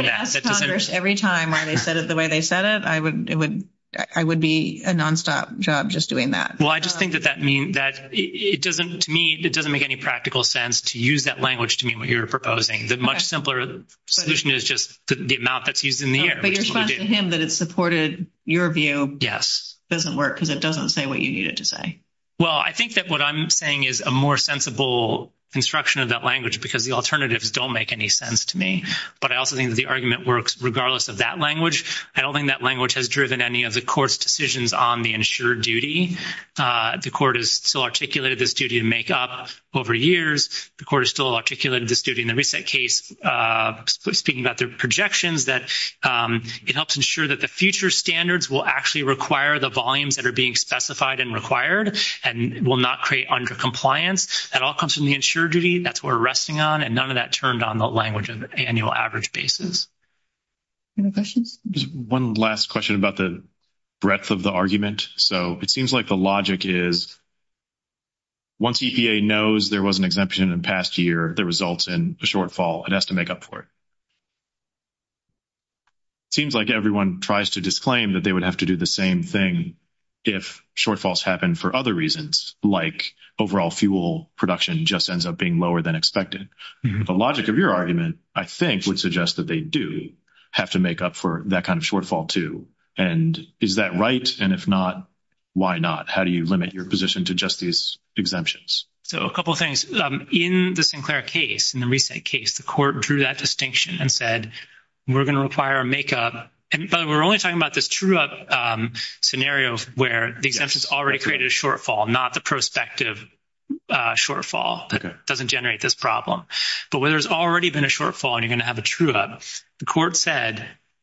every time I said it the way they said it, I would, I would be a nonstop job just doing that. Well, I just think that that means that it doesn't to me. It doesn't make any practical sense to use that language to me when you're proposing that much simpler solution is just the amount that's used in the response to him, but it supported your view. Yes. It doesn't work because it doesn't say what you need it to say. Well, I think that what I'm saying is a more sensible construction of that language, because the alternatives don't make any sense to me. But I also think the argument works regardless of that language. I don't think that language has driven any of the course decisions on the ensure duty. The court is still articulated this duty to make up over years. The court is still articulated this duty in the recent case speaking about their projections that it helps ensure that the future standards will actually require the volumes that are being specified and required. And we'll not create under compliance and all comes from the ensure duty. That's we're resting on and none of that turned on the language of the annual average basis. Any questions 1 last question about the breadth of the argument. So it seems like the logic is. Once EPA knows there was an exemption in past year, the results and shortfall, it has to make up for it. Seems like everyone tries to disclaim that they would have to do the same thing. If shortfalls happen for other reasons, like overall fuel production just ends up being lower than expected. The logic of your argument, I think, would suggest that they do have to make up for that kind of shortfall too. And is that right? And if not. Why not? How do you limit your position to just these exemptions? So a couple of things in the Sinclair case in the recent case, the court drew that distinction and said, we're going to require a makeup and we're only talking about this true up scenarios where the exemptions already created a shortfall. Not the prospective shortfall doesn't generate this problem, but where there's already been a shortfall and you're going to have a true up the court said,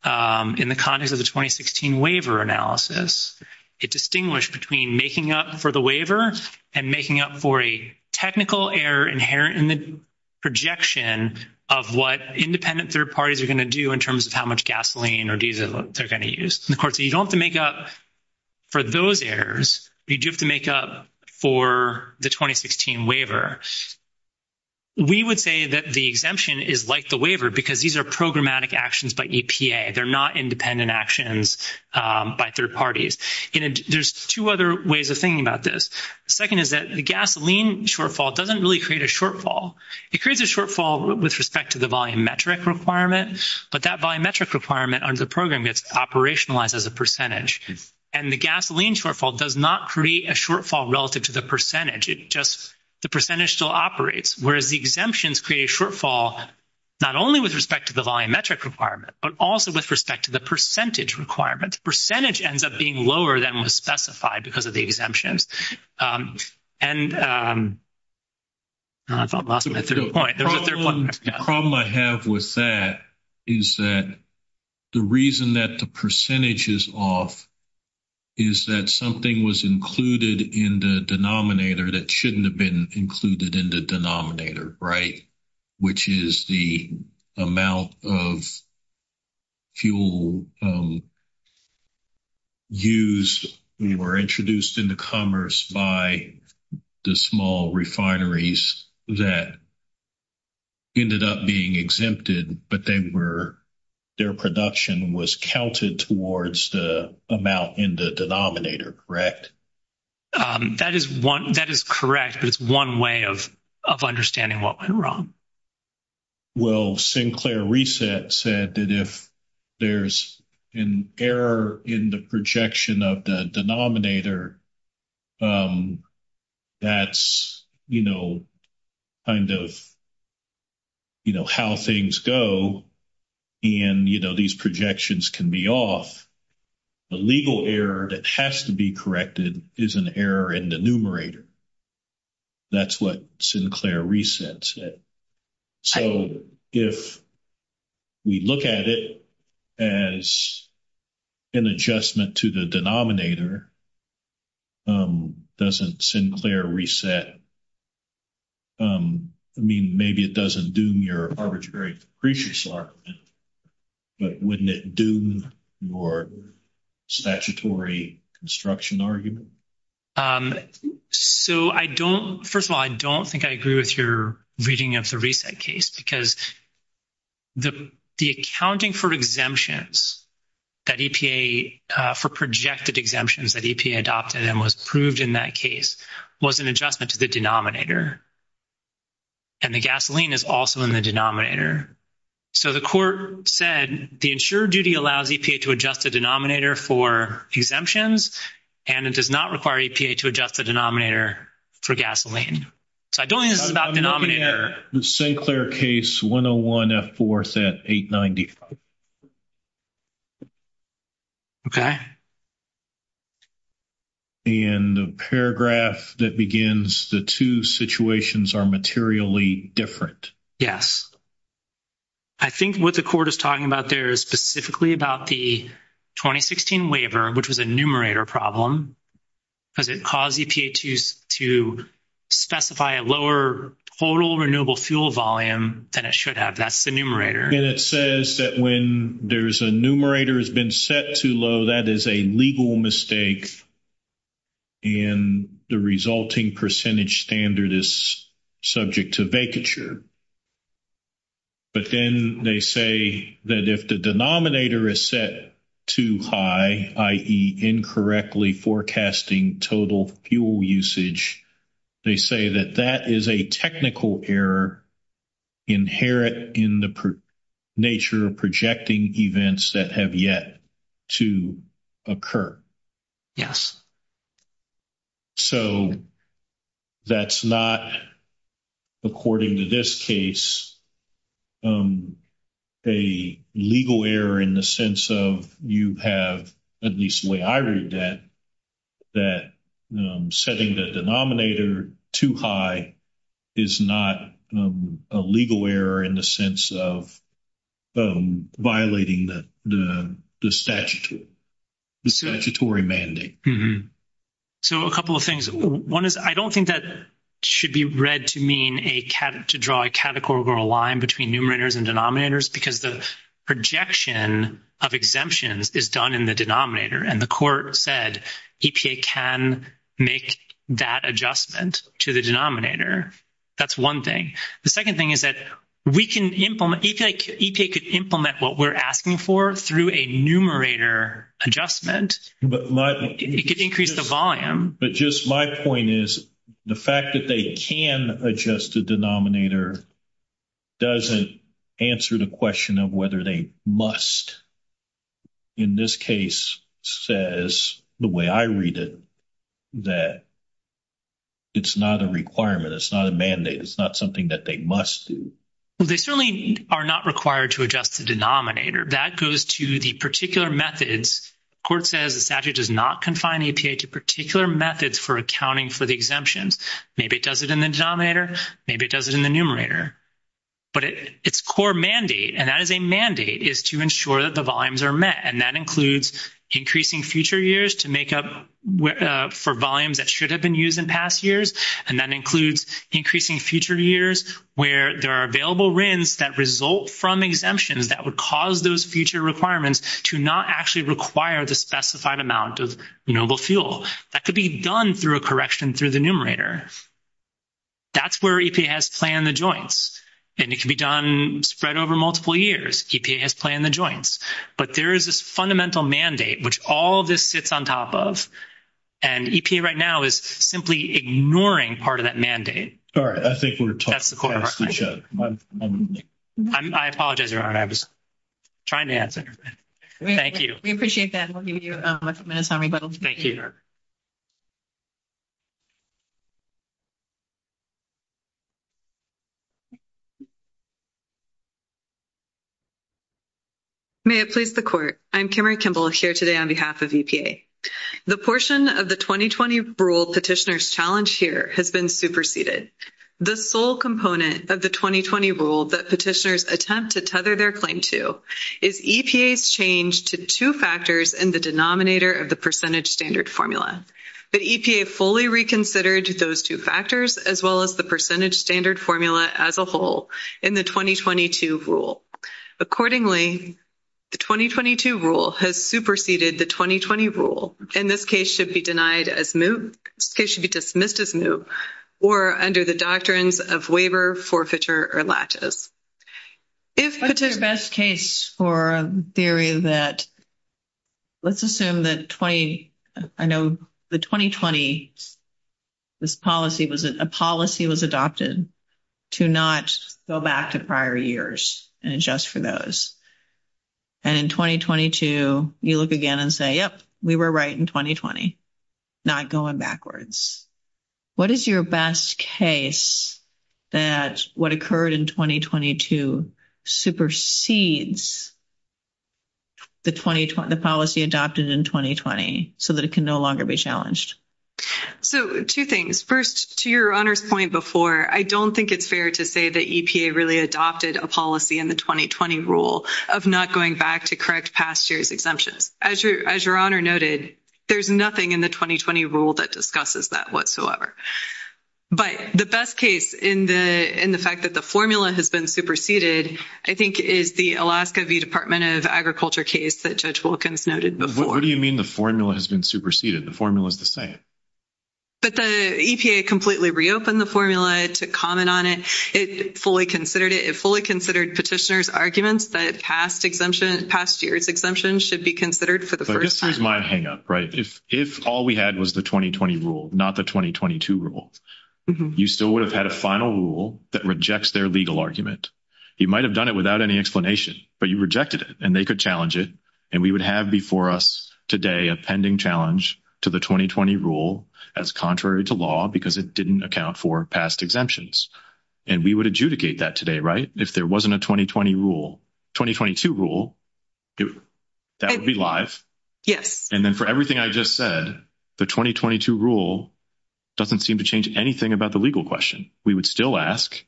in the context of the 2016 waiver analysis. It distinguished between making up for the waiver and making up for a technical error inherent in the projection of what independent 3rd parties are going to do in terms of how much gasoline or diesel they're going to use. And, of course, you don't have to make up for those errors. You have to make up for the 2016 waiver. We would say that the exemption is like the waiver, because these are programmatic actions, but they're not independent actions by 3rd parties. There's 2 other ways of thinking about this. 2nd, is that the gasoline shortfall doesn't really create a shortfall. It creates a shortfall with respect to the volumetric requirements, but that biometric requirement on the program gets operationalized as a percentage and the gasoline shortfall does not create a shortfall relative to the percentage. Just the percentage still operates, whereas the exemptions create a shortfall, not only with respect to the volumetric requirement, but also with respect to the percentage requirement percentage ends up being lower than was specified because of the exemptions. And I thought the problem I have with that is that the reason that the percentage is off. Is that something was included in the denominator that shouldn't have been included in the denominator? Right? Which is the amount of. Fuel. Use, we were introduced into commerce by the small refineries that. Ended up being exempted, but they were. Their production was counted towards the amount in the denominator. Correct? That is 1 that is correct. It's 1 way of. Of understanding what went wrong well, Sinclair reset said that if. There's an error in the projection of the denominator. That's, you know. Kind of, you know, how things go. And, you know, these projections can be off. The legal error that has to be corrected is an error in the numerator. That's what Sinclair resets it. So, if we look at it. As an adjustment to the denominator. Doesn't Sinclair reset. I mean, maybe it doesn't do your arbitrary creatures. But when they do your. Statutory construction argument. So, I don't 1st of all, I don't think I agree with your reading of the recent case because. The accounting for exemptions. That EPA for projected exemptions that EPA adopted and was proved in that case was an adjustment to the denominator. And the gasoline is also in the denominator. So, the court said the ensure duty allows EPA to adjust the denominator for exemptions and it does not require EPA to adjust the denominator for gasoline. So, I don't think it's about the denominator. Sinclair case 101F4 at 890. Okay. And the paragraph that begins the 2 situations are materially different. Yes, I think what the court is talking about there is specifically about the 2016 waiver, which was a numerator problem. Because it caused EPA to specify a lower total renewable fuel volume than it should have. That's the numerator. And it says that when there's a numerator has been set too low, that is a legal mistake. And the resulting percentage standard is subject to vacature. But then they say that if the denominator is set too high, i.e. incorrectly forecasting total fuel usage, they say that that is a technical error. Inherit in the nature of projecting events that have yet. To occur, yes. So, that's not. According to this case, a legal error in the sense of you have, at least the way I read that. That setting the denominator too high. Is not a legal error in the sense of. Violating the statute. So, a couple of things 1 is, I don't think that. Should be read to mean a to draw a categorical line between numerators and denominators because the projection of exemptions is done in the denominator. And the court said EPA can make that adjustment to the denominator. That's 1 thing. The 2nd thing is that we can implement what we're asking for through a numerator adjustment, but it could increase the volume. But just my point is the fact that they can adjust the denominator. Doesn't answer the question of whether they must. In this case, says the way I read it. That it's not a requirement. It's not a mandate. It's not something that they must. They certainly are not required to adjust the denominator that goes to the particular methods court says the statute does not confine a particular methods for accounting for the exemptions. Maybe it doesn't in the denominator. Maybe it doesn't in the numerator. But it's core mandate and that is a mandate is to ensure that the volumes are met and that includes increasing future years to make up for volumes that should have been used in past years. And that includes increasing future years where there are available wins that result from exemptions that would cause those future requirements to not actually require the specified amount of noble fuel that could be done through a correction through the numerator. That's where he has planned the joints and it can be done spread over multiple years. He has planned the joints, but there is this fundamental mandate, which all this sits on top of and right now is simply ignoring part of that mandate. All right, I think that's the question. I apologize. You're trying to answer. Thank you. We appreciate that. I'll give you a minute. Thank you. May it please the court. I'm Kimberly Kimball here today on behalf of EPA. The portion of the 2020 rule petitioners challenge here has been superseded the sole component of the 2020 rule that petitioners attempt to tether their claim to is EPA's change to 2 factors in the denominator of the percentage standard formula, but EPA fully reconsidered those 2 factors to make sure that they are not going to be used in the future. Those 2 factors, as well as the percentage standard formula as a whole in the 2022 rule. Accordingly, the 2022 rule has superseded the 2020 rule and this case should be denied as new case should be dismissed as new or under the doctrines of waiver forfeiture or latches. If it's your best case for a theory that. Let's assume that 20, I know the 2020. This policy was a policy was adopted to not go back to prior years and adjust for those and 2022, you look again and say, yep, we were right in 2020, not going backwards. What is your best case that what occurred in 2022 supersedes. The 2020 policy adopted in 2020, so that it can no longer be challenged. So, 2 things 1st, to your point before, I don't think it's fair to say that EPA really adopted a policy in the 2020 rule of not going back to correct past years exemption as your honor noted. There's nothing in the 2020 rule that discusses that whatsoever, but the best case in the, in the fact that the formula has been superseded, I think, is the Alaska Department of agriculture case that judge Wilkins noted. What do you mean? The formula has been superseded the formula is the same. But the EPA completely reopen the formula to comment on it fully considered it fully considered petitioners arguments that past exemption past years exemption should be considered for the 1st, my hang up. Right? If, if all we had was the 2020 rule, not the 2022 rule, you still would have had a final rule that rejects their legal argument. You might have done it without any explanation, but you rejected it and they could challenge it. And we would have before us today, a pending challenge to the 2020 rule as contrary to law, because it didn't account for past exemptions. And we would adjudicate that today, right? If there wasn't a 2020 rule, 2022 rule that would be live. Yes. And then for everything I've just said, the 2022 rule doesn't seem to change anything about the legal question. We would still ask.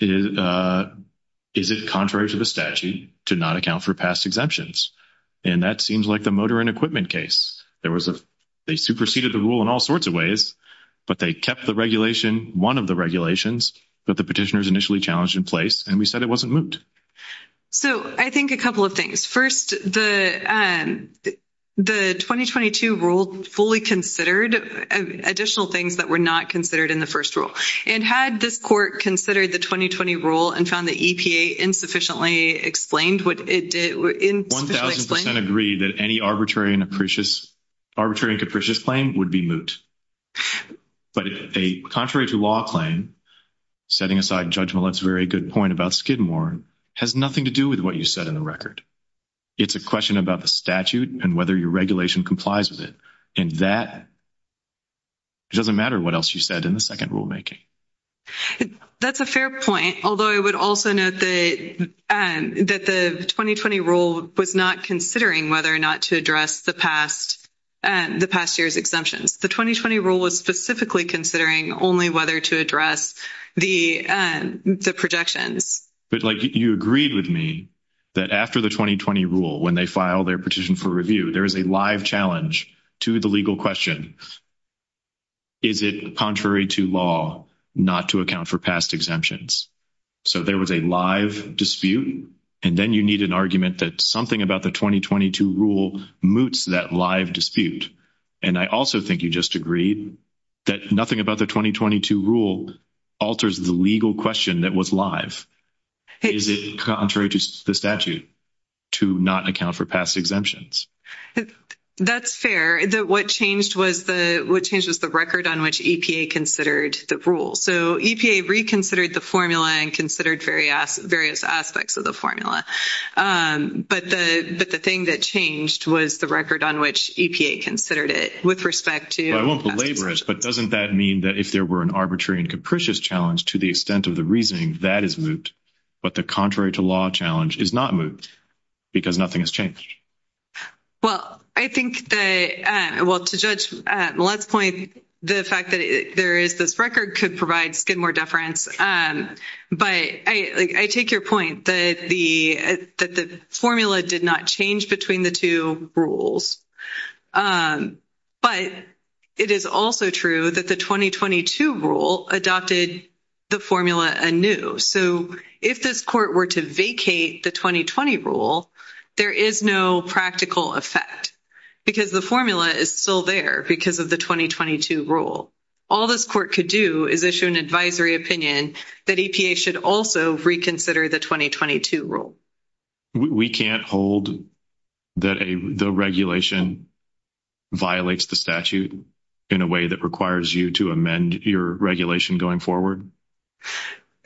Is it contrary to the statute to not account for past exemptions? And that seems like the motor and equipment case. There was a, they superseded the rule in all sorts of ways, but they kept the regulation. 1 of the regulations, but the petitioners initially challenged in place. And we said it wasn't moved. So, I think a couple of things 1st, the, the 2022 rules fully considered additional things that were not considered in the 1st rule and had this court considered the 2020 rule and found the EPA insufficiently explained what it did in 1000% agree that any arbitrary and appreciates arbitrary and capricious claim would be moot. But a contrary to law claim, setting aside judgment, that's a very good point about skid more has nothing to do with what you said in the record. It's a question about the statute and whether your regulation complies with it. And that. It doesn't matter what else you said in the 2nd rulemaking. That's a fair point. Although I would also note that the 2020 rule was not considering whether or not to address the past. And the past year's exemption, the 2020 rule is specifically considering only whether to address the, the projection. But, like, you agreed with me that after the 2020 rule, when they file their petition for review, there's a live challenge to the legal question. Is it contrary to law not to account for past exemptions? So, there was a live dispute, and then you need an argument that something about the 2022 rule moots that live dispute. And I also think you just agreed that nothing about the 2022 rule. Alters the legal question that was live, contrary to the statute. To not account for past exemptions, that's fair that what changed was the, what changes the record on which EPA considered the rule. So, EPA reconsidered the formula and considered various various aspects of the formula, but the, but the thing that changed was the record on which EPA considered it with respect to laborist. But doesn't that mean that if there were an arbitrary and capricious challenge to the extent of the reasoning that is moot, but the contrary to law challenge is not moot because nothing has changed. Well, I think that, well, to judge the last point, the fact that there is this record could provide more deference, but I take your point that the, that the formula did not change between the 2 rules. But it is also true that the 2022 rule adopted the formula and new. So, if this court were to vacate the 2020 rule, there is no practical effect because the formula is still there because of the 2022 rule. All this court could do is issue an advisory opinion that EPA should also reconsider the 2022 rule. We can't hold the regulation violates the statute in a way that requires you to amend your regulation going forward.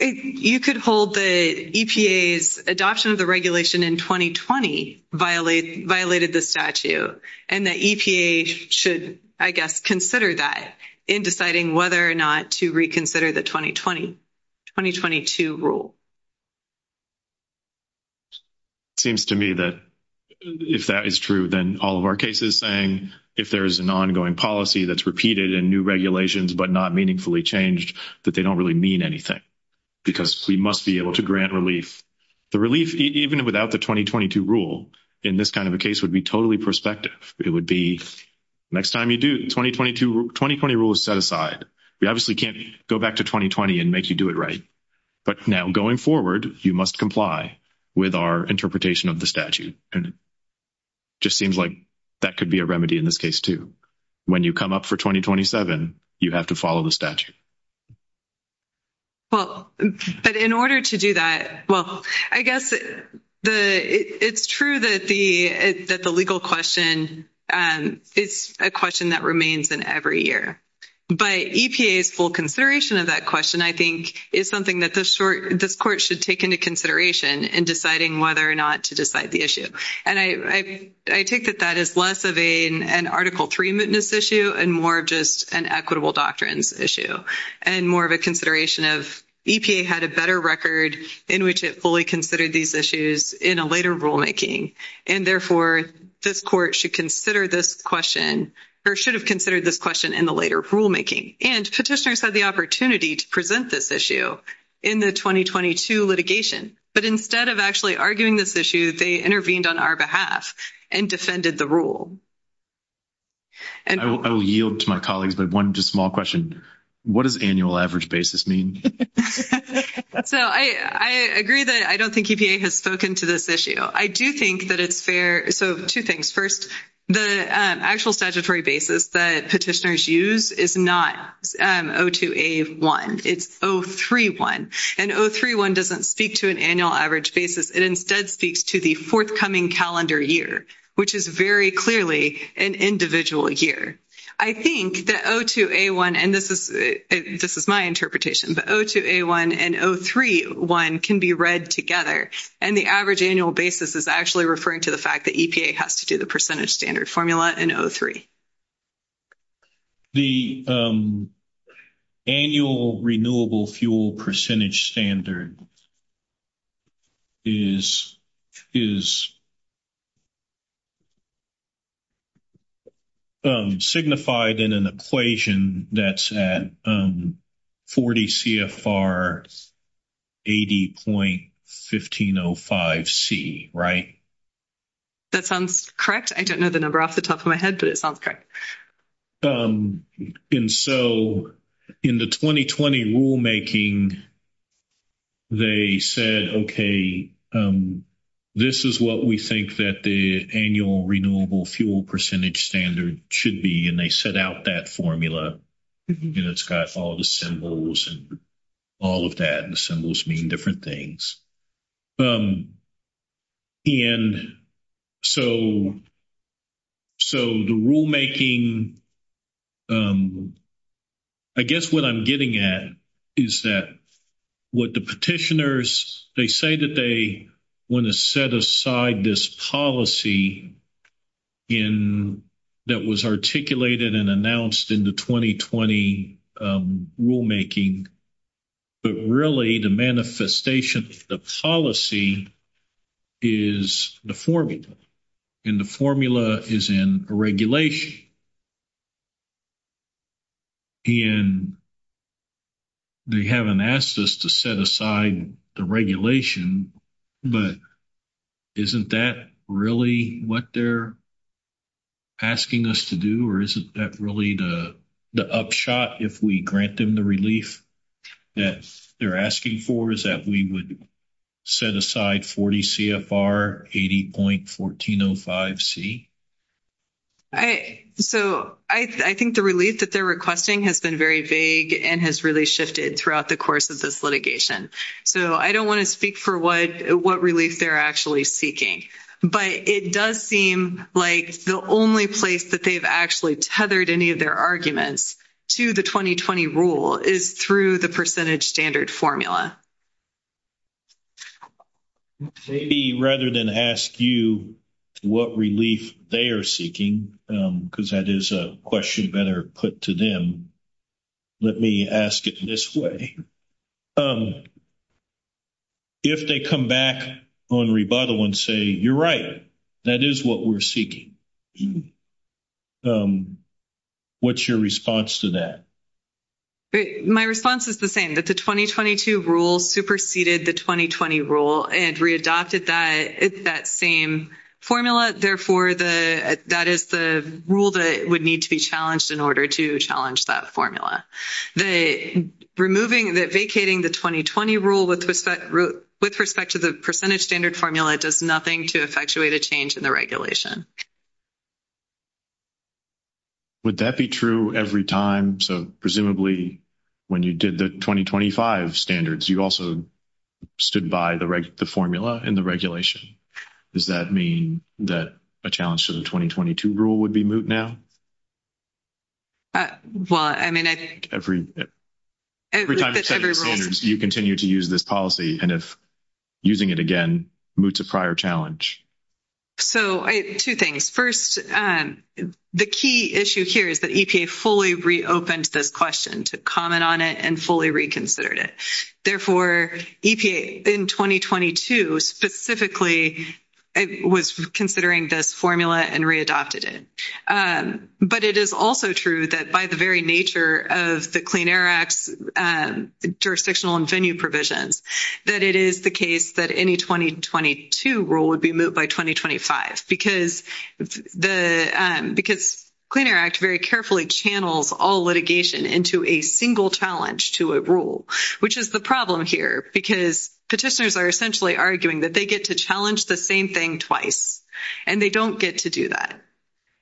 You could hold the EPA's adoption of the regulation in 2020 violated the statute and the EPA should, I guess, consider that in deciding whether or not to reconsider the 2020, 2022 rule. Seems to me that if that is true, then all of our cases saying, if there's an ongoing policy, that's repeated in new regulations, but not meaningfully changed that they don't really mean anything. Because we must be able to grant relief the relief, even without the 2022 rule in this kind of a case would be totally perspective. It would be next time you do 2022, 2020 rules set aside. We obviously can't go back to 2020 and make you do it right. But now, going forward, you must comply with our interpretation of the statute. And it just seems like that could be a remedy in this case, too. When you come up for 2027, you have to follow the statute. Well, but in order to do that, well, I guess the it's true that the, that the legal question is a question that remains in every year by EPA full consideration of that question, I think is something that this short, this court should take into consideration and deciding whether or not to decide the issue. And I, I, I take that that is less of a, an article 3 mitness issue and more of just an equitable doctrines issue and more of a consideration of EPA had a better record in which it fully considered these issues in a later rulemaking. And therefore, this court should consider this question, or should have considered this question in the later rulemaking and petitioners had the opportunity to present this issue in the 2022 litigation. But instead of actually arguing this issue, they intervened on our behalf and defended the rule. And I will yield to my colleagues, but 1, just small question. What does annual average basis mean? So, I, I agree that I don't think EPA has spoken to this issue. I do think that it's fair. So, 2 things 1st, the actual statutory basis that petitioners use is not 0 to a 1, it's 031 and 031 doesn't speak to an annual average basis. It instead speaks to the forthcoming calendar year, which is very clearly an individual year. I think that 0 to a 1, and this is, this is my interpretation, but 0 to a 1 and 031 can be read together and the average annual basis is actually referring to the fact that EPA has to do the percentage standard formula and 0.3, the annual renewable fuel percentage standard. Is is. Um, signified in an equation that's at 40 CFR, 80.1505 C, right? That sounds correct. I don't know the number off the top of my head, but it sounds correct. And so in the 2020 rulemaking. They said, okay, this is what we think that the annual renewable fuel percentage standard should be. And they set out that formula. It's got all the symbols and all of that and symbols mean different things. And so. So, the rulemaking. I guess what I'm getting at is that. What the petitioners, they say that they want to set aside this policy. In that was articulated and announced in the 2020 rulemaking. But really the manifestation of the policy. Is the formula and the formula is in regulation. And they haven't asked us to set aside the regulation, but. Isn't that really what they're. Asking us to do, or isn't that really the, the upshot if we grant them the relief. That they're asking for is that we would set aside 40 80.1405 C. I, so I think the relief that they're requesting has been very vague and has really shifted throughout the course of this litigation. So I don't want to speak for what what relief they're actually seeking, but it does seem like the only place that they've actually tethered. Any of their arguments to the 2020 rule is through the percentage standard formula. Maybe rather than ask you what relief they are seeking, because that is a question better put to them. Let me ask it this way if they come back on rebuttal and say, you're right. That is what we're seeking. What's your response to that? My response is the same, but the 2022 rule superseded the 2020 rule and readopted that it's that same formula. Therefore, the, that is the rule that would need to be challenged in order to challenge that formula, the removing that vacating the 2020 rule with respect with respect to the percentage standard formula. It does nothing to effectuate a change in the regulation. Would that be true every time? So, presumably. When you did the 2025 standards, you also. Stood by the right, the formula and the regulation. Does that mean that a challenge to the 2022 rule would be moved now. Well, I mean, I think every. You continue to use this policy and if. Using it again, move to prior challenge. So 2 things 1st, the key issue here is that EPA fully reopened this question to comment on it and fully reconsidered it. Therefore, in 2022, specifically, I was considering this formula and readopted it. But it is also true that by the very nature of the clean air act jurisdictional and venue provisions, that it is the case that any 2022 rule would be moved by 2025 because the, because clean air act very carefully channels all litigation into a single challenge to a rule, which is the problem here, because the testers are essentially arguing that they get to challenge the same thing twice and they don't get to do that.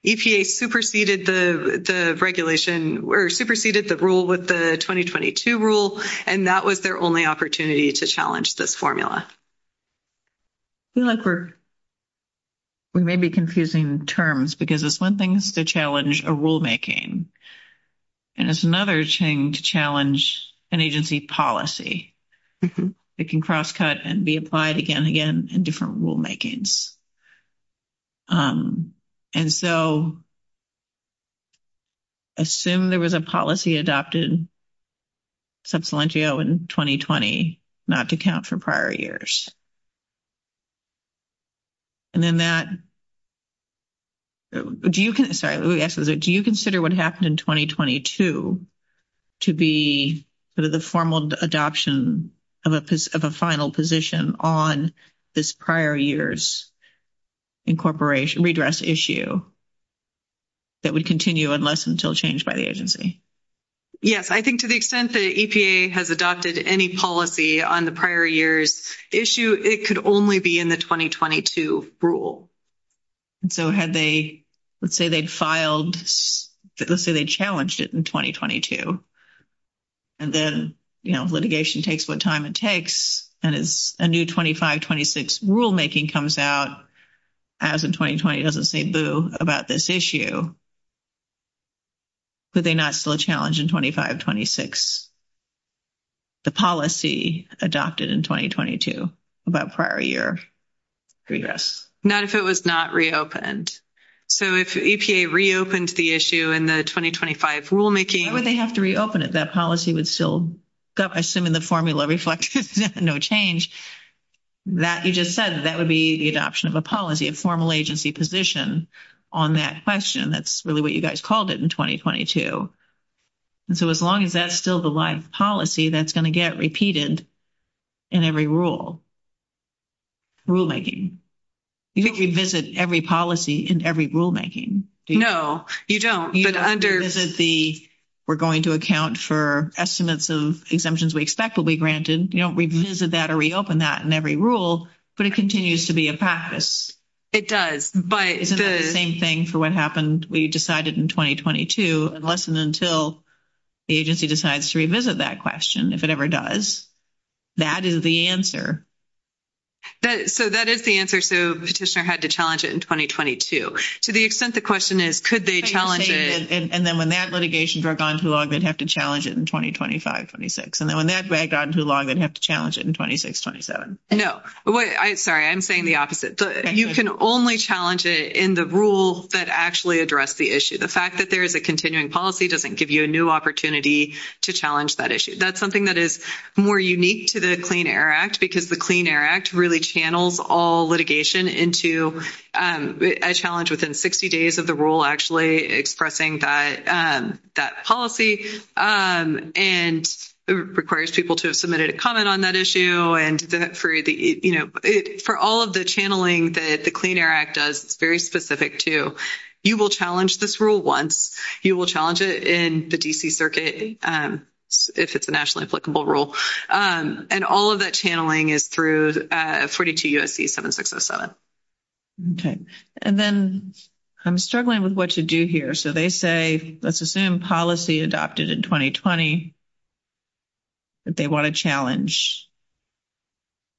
EPA superseded the regulation or superseded the rule with the 2022 rule and that was their only opportunity to challenge this formula. We may be confusing terms because it's 1 thing to challenge a rulemaking and it's another chain to challenge an agency policy. It can cross cut and be applied again and again in different rulemakings and so assume there was a policy adopted in 2020 not to count for prior years. And then that do you can do you consider what happened in 2022 to be the, the formal adoption of a of a final position on this prior years incorporation redress issue that would continue unless until changed by the agency. Yes, I think to the extent that EPA has adopted any policy on the prior years issue, it could only be in the 2022 rule. So, had they, let's say they filed, let's say they challenged it in 2022. And then litigation takes what time it takes and it's a new 2526 rulemaking comes out as a 2020 doesn't say boo about this issue. But they're not still challenging 2526. The policy adopted in 2022 about prior year. Yes, not if it was not reopened. So, if a reopened the issue in the 2025 rulemaking, they have to reopen it. That policy would still go. I assume in the formula reflect no change that you just said that would be the adoption of a policy and formal agency position on that question. That's really what you guys called it in 2022. and so, as long as that's still the live policy, that's going to get repeated. In every rule rulemaking. You think you visit every policy in every rulemaking? No, you don't. But under this is the, we're going to account for estimates of exemptions. We expect will be granted. You don't revisit that or reopen that in every rule, but it continues to be a practice. It does, but it's the same thing for what happened. We decided in 2022 and less than until. The agency decides to revisit that question, if it ever does, that is the answer that so that is the answer. So petitioner had to challenge it in 2022 to the extent. The question is, could they challenge it? And then when that litigation broke on too long, they'd have to challenge it in 2025 26. and then when that got too long, they'd have to challenge it in 2627. no, I'm sorry. I'm saying the opposite. You can only challenge it in the rule that actually address the issue. The fact that there is a continuing policy doesn't give you a new opportunity to challenge that issue. That's something that is more unique to the clean air act, because the clean air act really channels all litigation into a challenge within 60 days of the rule actually expressing that that policy and requires people to have submitted a comment on that issue. And for the, for all of the channeling that the clean air act does very specific to, you will challenge this rule. Once you will challenge it in the D. C. circuit if it's a nationally applicable rule and all of that channeling is through 42 U. S. C. 7, 6, 07. Okay, and then I'm struggling with what to do here. So they say, let's assume policy adopted in 2020. But they want to challenge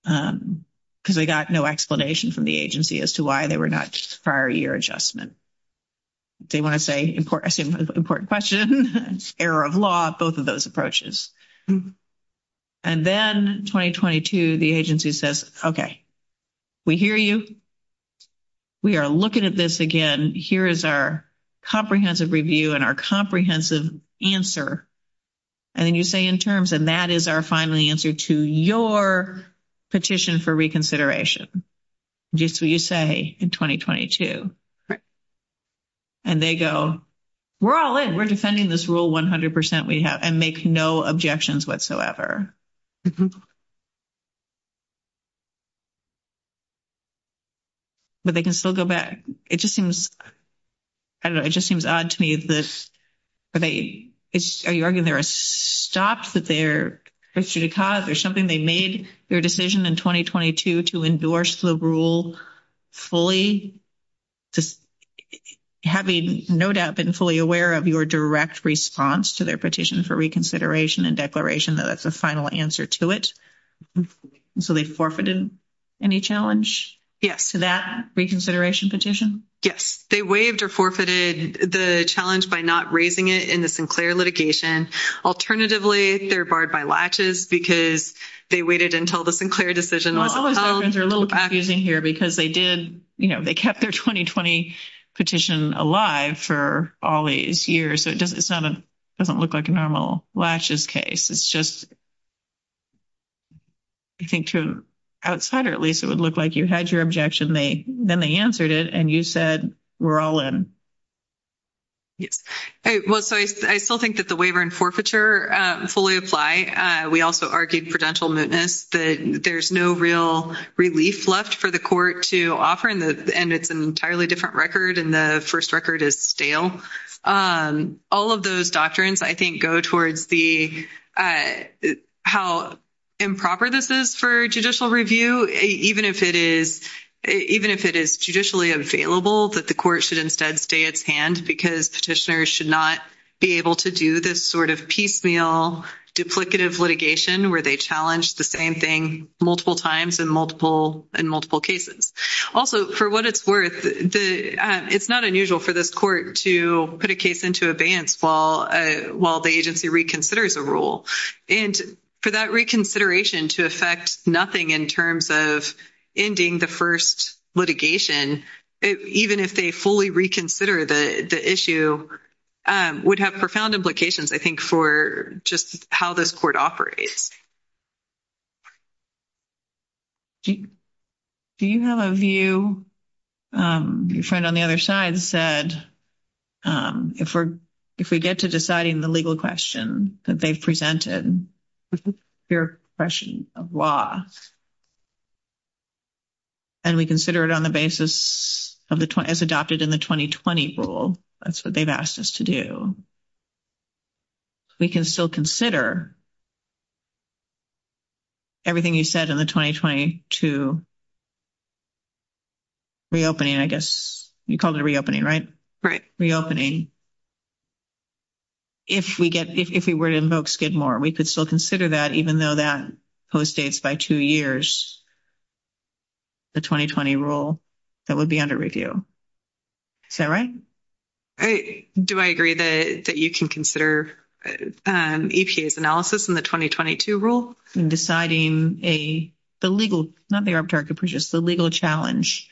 because we got no explanation from the agency as to why they were not prior year adjustment. They want to say important important question error of law both of those approaches. And then 2022, the agency says, okay. We hear you, we are looking at this again. Here is our. Comprehensive review and our comprehensive answer. And then you say, in terms, and that is our finally answer to your petition for reconsideration, just what you say in 2022 and they go, we're all in. We're defending this rule. 100%. We have and make no objections whatsoever. But they can still go back. It just seems. I don't know. It just seems odd to me this. Are they, are you arguing there a stop that they're or something they made their decision in 2022 to endorse the rule. Fully have a note up and fully aware of your direct response to their petition for reconsideration and declaration. That's the final answer to it. So, they forfeited any challenge to that reconsideration petition. Yes, they waived or forfeited the challenge by not raising it in the Sinclair litigation. Alternatively, they're barred by latches because they waited until the Sinclair decision. They're a little confusing here because they did, you know, they kept their 2020 petition alive for all these years. So, it doesn't, it's not a doesn't look like a normal lashes case. It's just. I think outside, or at least it would look like you had your objection. They then they answered it and you said, we're all in. Hey, well, so I still think that the waiver and forfeiture fully apply. We also argued prudential mootness, but there's no real relief left for the court to offer. And it's an entirely different record. And the 1st record is stale all of those doctrines, I think, go towards the, how. Improper this is for judicial review, even if it is, even if it is judicially available that the court should instead stay at hand because petitioners should not be able to do this sort of piecemeal duplicative litigation where they challenge the same thing multiple times and multiple and multiple cases. Also, for what it's worth, it's not unusual for this court to put a case into a band while while the agency reconsiders the rule and for that reconsideration to affect nothing in terms of ending the 1st litigation, even if they fully reconsider the issue would have profound implications. I think for just how this court operates. Do you have a view you found on the other side said, if we're, if we get to deciding the legal question that they've presented your question of law, and we consider it on the basis of the, as adopted in the 2020 rule, that's what they've asked us to do we can still consider. Everything you said in the 2022. Reopening, I guess you call it reopening right? Right? Reopening. If we get, if we were to get more, we could still consider that even though that post dates by 2 years. The 2020 rule that would be under review. All right, do I agree that that you can consider analysis in the 2022 rule in deciding a, the legal, not the arbitrary purchase the legal challenge.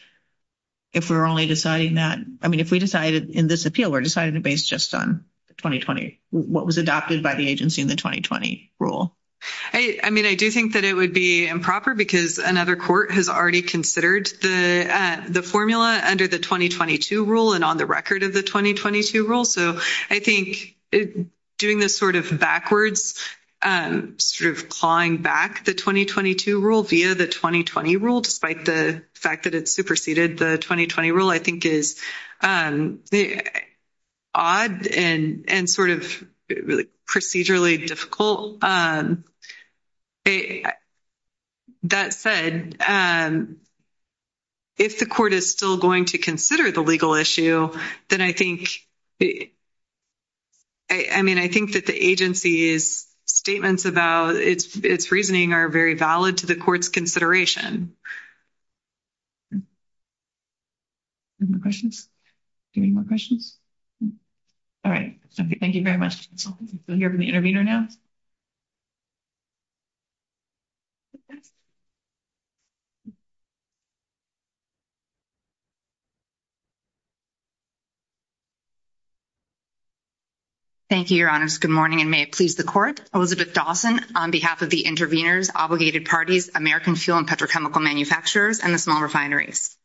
If we're only deciding that, I mean, if we decided in this appeal, we're deciding to base just on 2020, what was adopted by the agency in the 2020 rule. I mean, I do think that it would be improper because another court has already considered the formula under the 2022 rule and on the record of the 2022 rule. So, I think doing this sort of backwards, sort of clawing back the 2022 rule via the 2020 rule, despite the fact that it's superseded the 2020 rule, I think is. Odd and and sort of procedurally difficult. That said, if the court is still going to consider the legal issue, then I think. I mean, I think that the agency's statements about its reasoning are very valid to the court's consideration. My questions do you need my questions? All right, thank you very much. So the intervene or now. Thank you, your honors. Good morning and may it please the court. Elizabeth Dawson on behalf of the intervenors, obligated parties, American fuel and petrochemical manufacturers and the small refineries.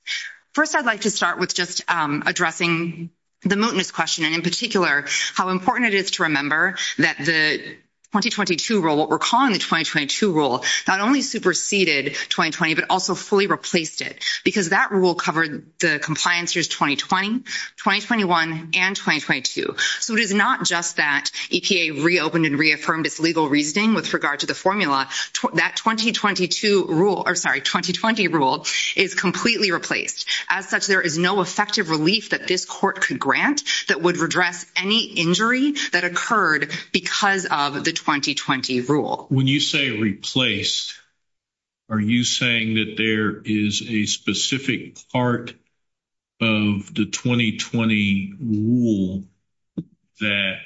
1st, I'd like to start with just addressing the mootness question, and in particular, how important it is to remember that the 2022 rule, what we're calling the 2022 rule, not only superseded 2020, but also fully replaced it. Because that rule covered the compliance years, 2020, 2021 and 2022, so it is not just that EPA reopened and reaffirmed its legal reasoning with regard to the formula that 2022 rule or sorry, 2020 rule is completely replaced as such. There is no effective relief that this court could grant that would redress any injury that occurred because of the 2020 rule. When you say replaced. Are you saying that there is a specific part of the 2020 rule that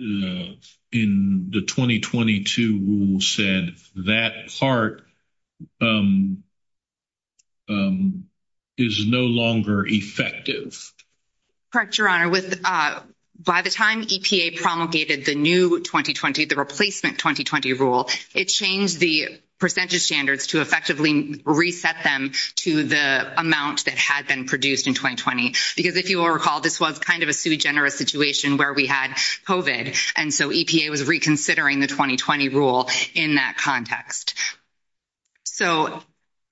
in the 2022 rule said that part. Is no longer effective. Correct your honor with by the time promulgated the new 2020, the replacement 2020 rule, it changed the percentage standards to effectively reset them to the amount that has been produced in 2020. because if you will recall, this was kind of a generous situation where we had coded and so EPA was reconsidering the 2020 rule in that context. So,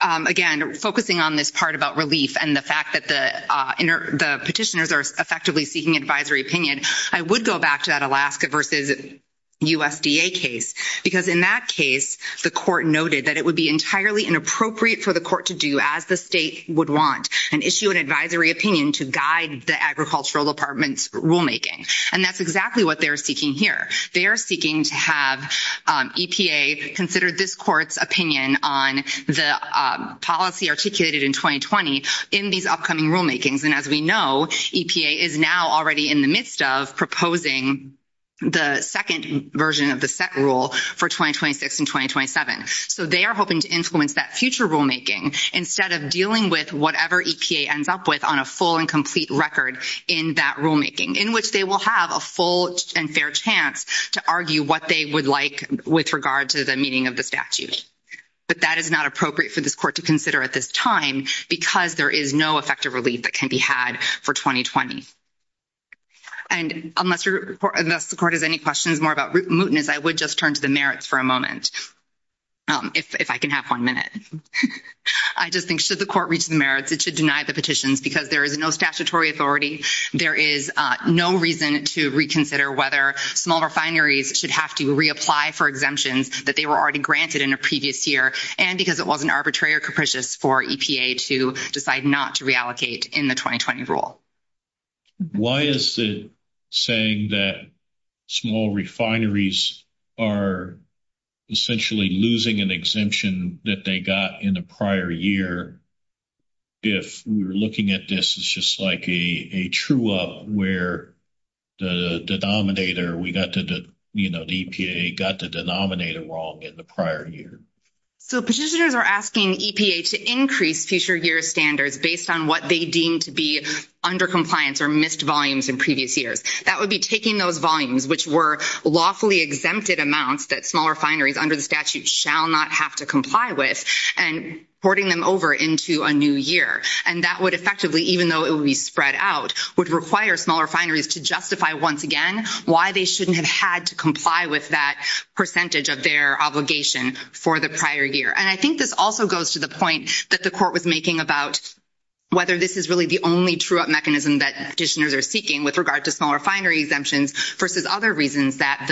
again, focusing on this part about relief and the fact that the petitioners are effectively seeking advisory opinion, I would go back to that Alaska versus. USDA case, because in that case, the court noted that it would be entirely inappropriate for the court to do as the state would want and issue an advisory opinion to guide the agricultural departments rulemaking. And that's exactly what they're seeking here. They're seeking to have EPA considered this court's opinion on the policy articulated in 2020 in these upcoming rulemakings. And as we know, EPA is now already in the midst of proposing. The 2nd version of the rule for 2026 and 2027, so they are hoping to influence that future rulemaking instead of dealing with whatever EPA ends up with on a full and complete record in that rulemaking in which they will have a full and fair chance to argue what they would like with regard to the meaning of the statute. But that is not appropriate for this court to consider at this time, because there is no effective relief that can be had for 2020. And unless you're supportive, any questions more about mootness, I would just turn to the merits for a moment. If I can have 1 minute, I just think should the court reach the merits to deny the petitions because there is no statutory authority. There is no reason to reconsider whether small refineries should have to reapply for exemptions that they were already granted in a previous year. And because it wasn't arbitrary or capricious for EPA to decide not to reallocate in the 2020 rule. Why is the saying that small refineries are essentially losing an exemption that they got in the prior year? If we're looking at this, it's just like a true up where the denominator we got to, you know, the EPA got the denominator wrong in the prior year. So, petitioners are asking EPA to increase future year standards based on what they deem to be under compliance or missed volumes in previous years. That would be taking those volumes, which were lawfully exempted amounts that small refineries under the statute shall not have to comply with and porting them over into a new year. And that would effectively, even though it would be spread out, would require small refineries to justify once again, why they shouldn't have had to comply with that percentage of their obligation for the prior year. And I think this also goes to the point that the court was making about. Whether this is really the only true up mechanism that petitioners are seeking with regard to small refinery exemptions versus other reasons that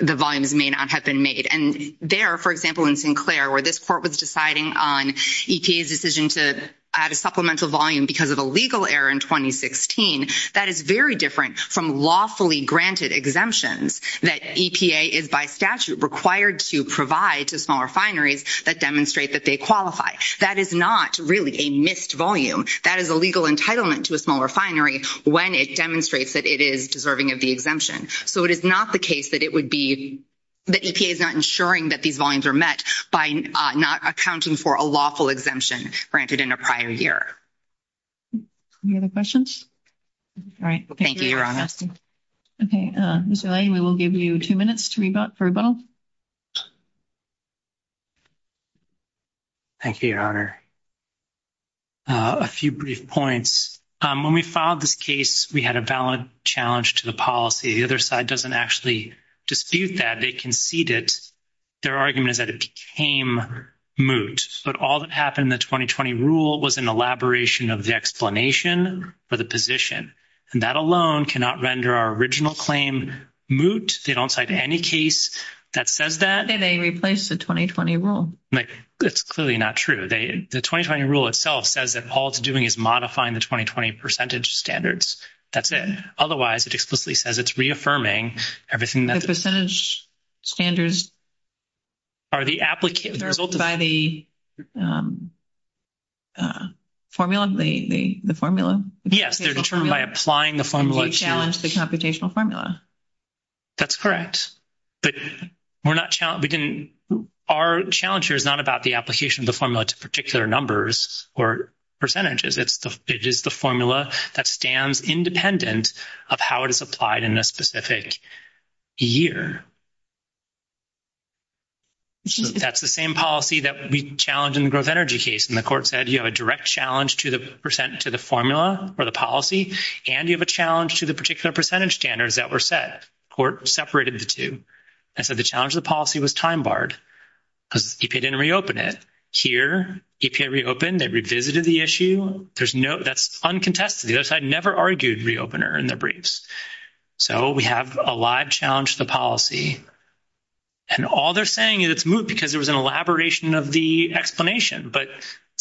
the volumes may not have been made. And there, for example, in Sinclair, where this court was deciding on EPA's decision to add a supplemental volume because of a legal error in 2016, that is very different from lawfully granted exemptions that EPA is by statute required to provide to small refineries that demonstrate that they qualify. That is not really a missed volume. That is a legal entitlement to a small refinery when it demonstrates that it is deserving of the exemption. So, it is not the case that it would be that EPA is not ensuring that these volumes are met by not accounting for a lawful exemption granted in a prior year. Any other questions? All right. Thank you. Okay. We will give you 2 minutes to rebut for a bow. Thank you. A few brief points when we filed this case, we had a valid challenge to the policy. The other side doesn't actually dispute that. They conceded. Their argument is that it became moot, but all that happened in the 2020 rule was an elaboration of the explanation for the position and that alone cannot render our original claim. Moot, they don't cite any case that says that they replaced the 2020 rule. It's clearly not true. The 2020 rule itself says that all it's doing is modifying the 2020 percentage standards. That's it. Otherwise, it explicitly says it's reaffirming everything that percentage standards. Are the applicant results by the formula, the formula. Yes, they're determined by applying the formula challenge the computational formula. That's correct. But we're not challenging our challenger is not about the application of the formula to particular numbers or percentages. It's the formula that stands independent of how it is applied in a specific year. That's the same policy that we challenge in growth energy case. And the court said, you have a direct challenge to the percent to the formula or the policy. And you have a challenge to the particular percentage standards that were set court separated the 2. I said, the challenge of the policy was time barred because he didn't reopen it here. He reopened. They revisited the issue. There's no, that's uncontested. The other side never argued the opener and the briefs. So, we have a live challenge, the policy, and all they're saying is it's moved because there was an elaboration of the explanation, but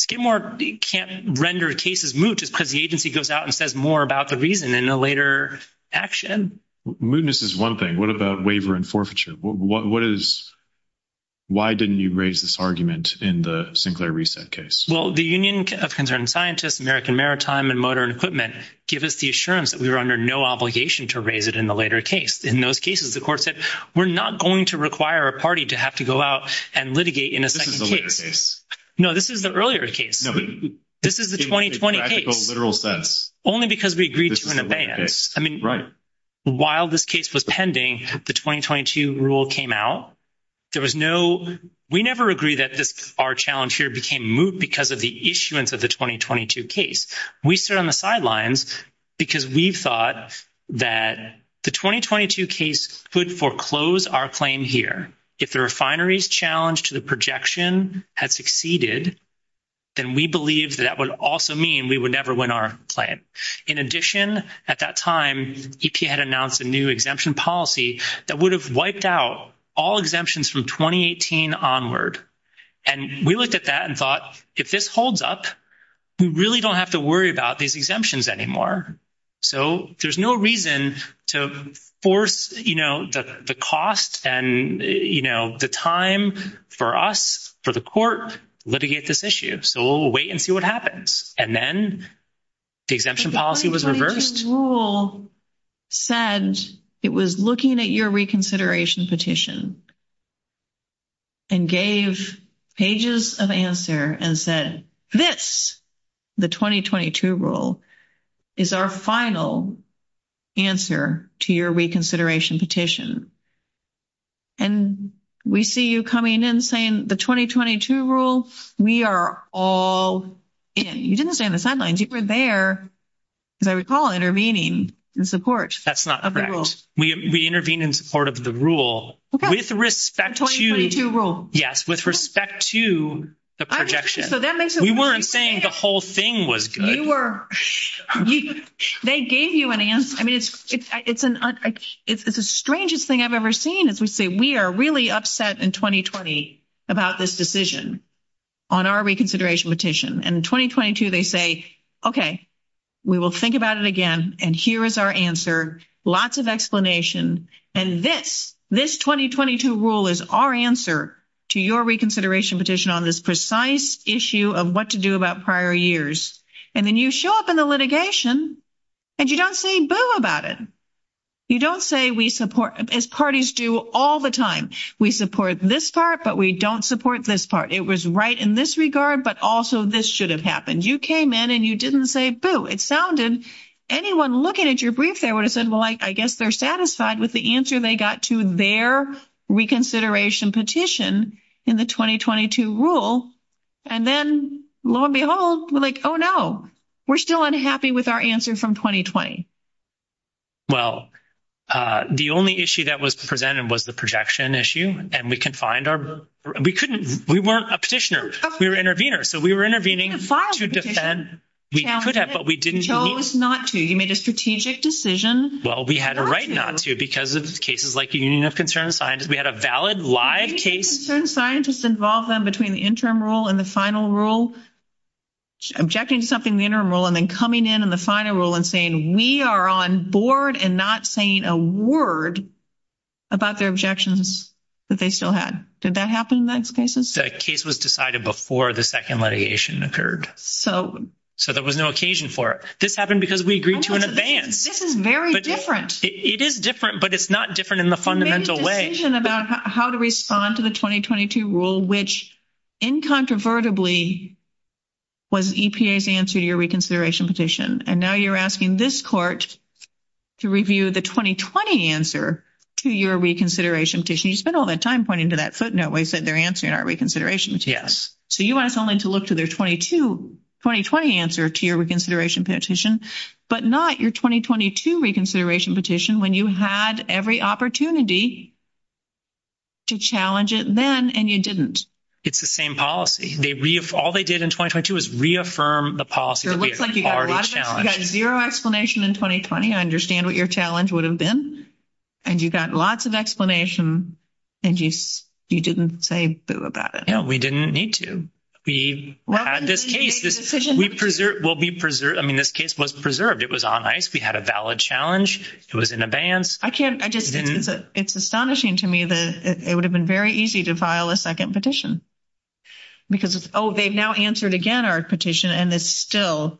get more can't render cases moved because the agency goes out and says more about the reason in a later action. Moodness is 1 thing. What about waiver and forfeiture? What is. Why didn't you raise this argument in the Sinclair reset case? Well, the Union of concerned scientists, American maritime and motor equipment, give us the assurance that we were under no obligation to raise it in the later case. In those cases, of course, that we're not going to require a party to have to go out and litigate in a. This is the case. No, this is the earlier case. No, this is the 2020 literal steps only because we agreed to an event. I mean, while this case was pending, the 2022 rule came out. There was no, we never agree that our challenge here became moved because of the issuance of the 2022 case we stood on the sidelines because we thought that the 2022 case could foreclose our claim here. If the refineries challenge to the projection had succeeded, then we believe that would also mean we would never win our plan. In addition, at that time, he had announced a new exemption policy that would have wiped out all exemptions from 2018 onward and we looked at that and thought, if this holds up, we really don't have to worry about these exemptions anymore. So, there's no reason to force, you know, the cost and, you know, the time for us for the court litigate this issue. So we'll wait and see what happens. And then the exemption policy was reversed rule said it was looking at your reconsideration petition. And gave pages of answer and said, this. The 2022 rule is our final. Answer to your reconsideration petition. And we see you coming in saying the 2022 rule, we are all. And you didn't say on the sidelines, you were there, as I recall, intervening in support. That's not correct. We intervene in support of the rule with respect to rule. Yes. With respect to the projection. So that we weren't saying the whole thing was good. They gave you an answer. I mean, it's, it's, it's an, it's the strangest thing I've ever seen. Since we say, we are really upset in 2020 about this decision on our reconsideration petition and 2022, they say, okay, we will think about it again. And here is our answer. Lots of explanation. And this, this 2022 rule is our answer to your reconsideration petition on this precise issue of what to do about prior years. And then you show up in the litigation. And you don't say Bill about it. You don't say we support as parties do all the time. We support this part, but we don't support this part. It was right in this regard, but also this should have happened. You came in and you didn't say, boo. It sounded anyone looking at your brief. They would have said, well, like, I guess they're satisfied with the answer. They got to their reconsideration petition in the 2022 rule. And then, lo and behold, we're like, oh, no, we're still unhappy with our answer from 2020. Well, the only issue that was presented was the projection issue and we can find our, we couldn't, we weren't a petitioner. We were intervener. So we were intervening. To defend, we could have, but we didn't show us not to. You made a strategic decision. Well, we had a right not to because of cases like the Union of Concerned Scientists. We had a valid live case. Concerned scientists involved them between the interim rule and the final rule, objecting to something in the interim rule, and then coming in on the final rule and saying we are on board and not saying a word about their objections that they still had. Did that happen in those cases? The case was decided before the 2nd litigation occurred. So, so there was no occasion for it. This happened because we agreed to an advance. This is very different. It is different, but it's not different in the fundamental way about how to respond to the 2022 rule, which incontrovertibly was EPA's answer to your reconsideration petition. And now you're asking this court to review the 2020 answer to your reconsideration petition. You spent all that time pointing to that footnote when you said they're answering our reconsideration. Yes. So you want someone to look to their 22, 2020 answer to your reconsideration petition, but not your 2022 reconsideration petition when you had every opportunity to challenge it then and you didn't. It's the same policy they all they did in 2022 is reaffirm the policy. 0 explanation in 2020. I understand what your challenge would have been. And you got lots of explanation and you, you didn't say about it. No, we didn't need to. We will be preserved. I mean, this case was preserved. It was on ice. We had a valid challenge. It was in advance. I can't I just it's astonishing to me that it would have been very easy to file a 2nd petition. Because it's oh, they've now answered again, our petition and it's still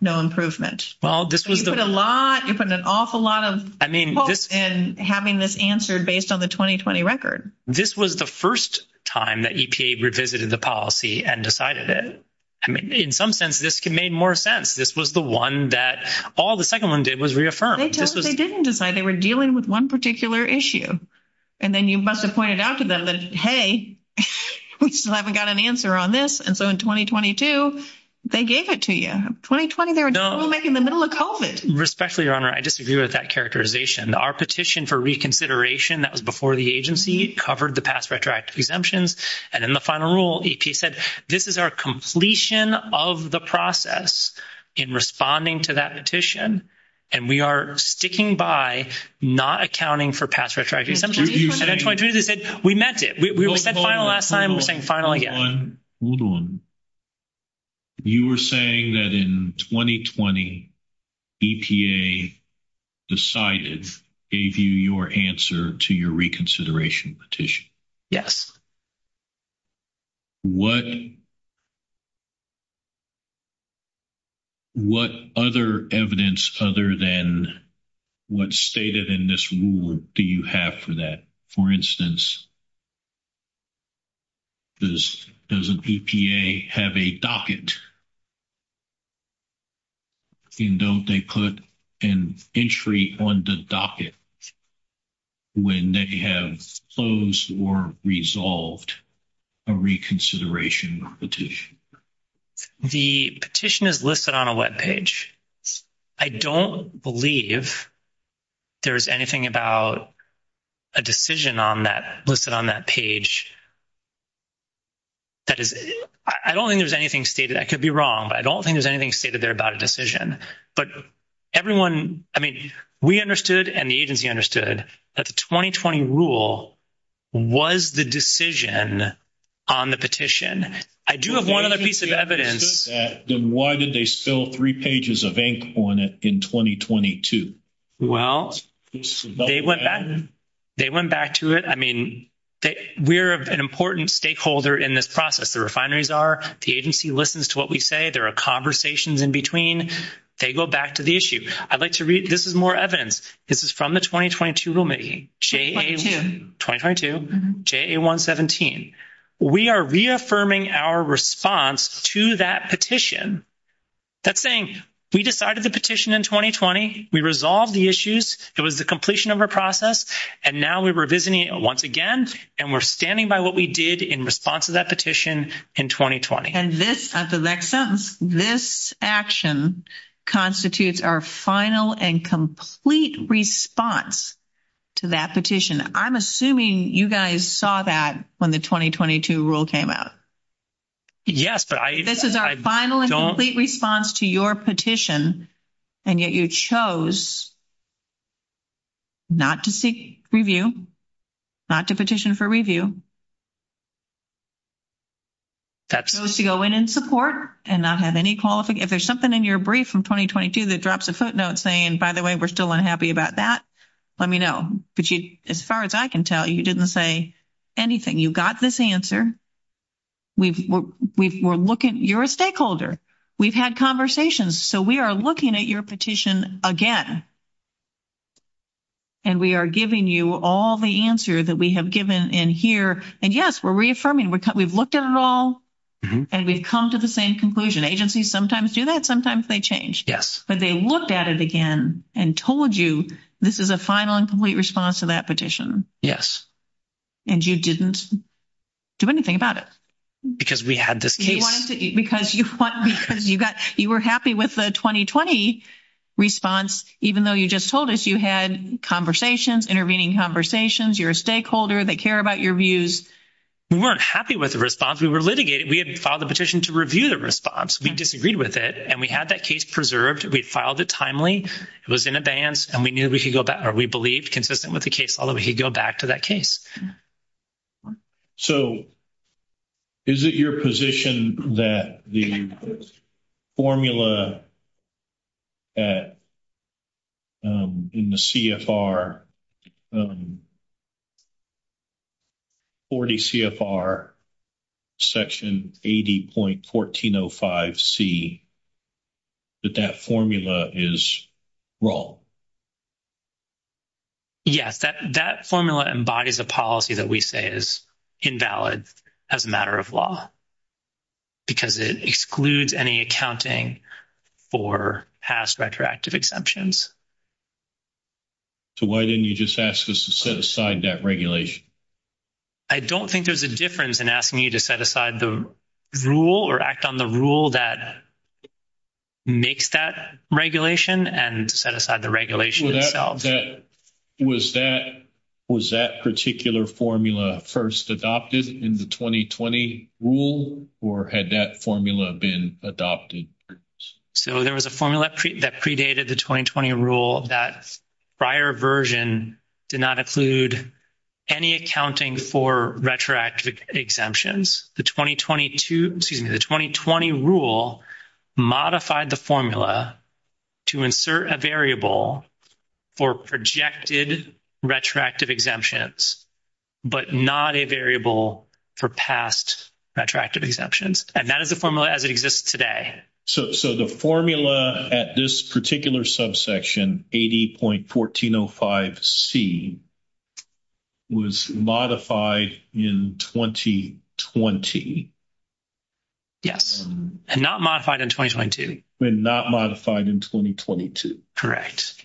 no improvement. Well, this was a lot from an awful lot of and having this answered based on the 2020 record. This was the 1st time that EPA revisited the policy and decided that in some sense, this can made more sense. This was the 1 that all the 2nd one did was reaffirm. They didn't decide they were dealing with 1 particular issue. And then you must have pointed out to them that, hey, we still haven't got an answer on this. And so in 2022, they gave it to you 2020. they're making the middle of it respectfully. Your honor. I disagree with that characterization our petition for reconsideration. That was before the agency covered the past retroactive exemptions. And then the final rule, he said, this is our completion of the process in responding to that petition. And we are sticking by not accounting for past. We met it, we were saying, finally, you were saying that in 2020. Decided if you, your answer to your reconsideration petition. Yes, what. What other evidence other than. What stated in this rule, do you have for that? For instance. Does does a have a docket. And don't they put an entry on the docket. When they have closed or resolved. A reconsideration petition, the petition is listed on a web page. I don't believe there's anything about. A decision on that listed on that page. That is, I don't think there's anything stated. I could be wrong, but I don't think there's anything stated there about a decision, but everyone, I mean, we understood and the agency understood that the 2020 rule. Was the decision on the petition? I do have 1 piece of evidence. Then why did they spill 3 pages of ink on it in 2022? well, they went back to it. I mean, we're an important stakeholder in this process. The refineries are the agency listens to what we say. There are conversations in between. They go back to the issue. I'd like to read. This is more evidence. This is from the 2022 room. It J. 2217. we are reaffirming our response to that petition. That's saying we decided the petition in 2020, we resolve the issues. It was the completion of our process. And now we were visiting it once again. And we're standing by what we did in response to that petition in 2020. And this, this action constitutes our final and complete response to that petition. I'm assuming you guys saw that when the 2022 rule came out. Yes, this is our final response to your petition and yet you chose. Not to seek review, not to petition for review. That's to go in and support and not have any quality. If there's something in your brief from 2022, that drops a footnote saying, by the way, we're still unhappy about that. Let me know. But as far as I can tell, you didn't say anything. You got this answer. We were looking, you're a stakeholder. We've had conversations. So we are looking at your petition again. And we are giving you all the answer that we have given in here and yes, we're reaffirming. We've looked at it all and we've come to the same conclusion. Agencies sometimes do that. Sometimes they change. Yes, but they looked at it again and told you this is a final and complete response to that petition. Yes. And you didn't do anything about it. Because we had this because you were happy with the 2020 response, even though you just told us you had conversations, intervening conversations. You're a stakeholder. They care about your views. We weren't happy with the response. We were litigated. We had filed a petition to review the response. We disagreed with it and we had that case preserved. We filed it timely. It was in advance and we knew we should go back or we believed consistent with the case. Although we could go back to that case. So, is it your position that the formula. At in the. 40 CFR. Section 80.1405 C. But that formula is wrong. Yes, that that formula embodies a policy that we say is invalid as a matter of law. Because it excludes any accounting for past retroactive exemptions. So, why didn't you just ask us to set aside that regulation? I don't think there's a difference in asking you to set aside the rule or act on the rule that. Make that regulation and set aside the regulation that was that was that particular formula first adopted in the 2020 rule, or had that formula been adopted? So, there was a formula that predated the 2020 rule that prior version did not include any accounting for retroactive exemptions. The 2022 excuse me, the 2020 rule modified the formula to insert a variable for projected retroactive exemptions, but not a variable for past attractive exemptions. And that is the formula as it exists today. So, so the formula at this particular subsection, 80.1405 C. Was modified in 2020. Yes, and not modified in 2020. We're not modified in 2022. Correct.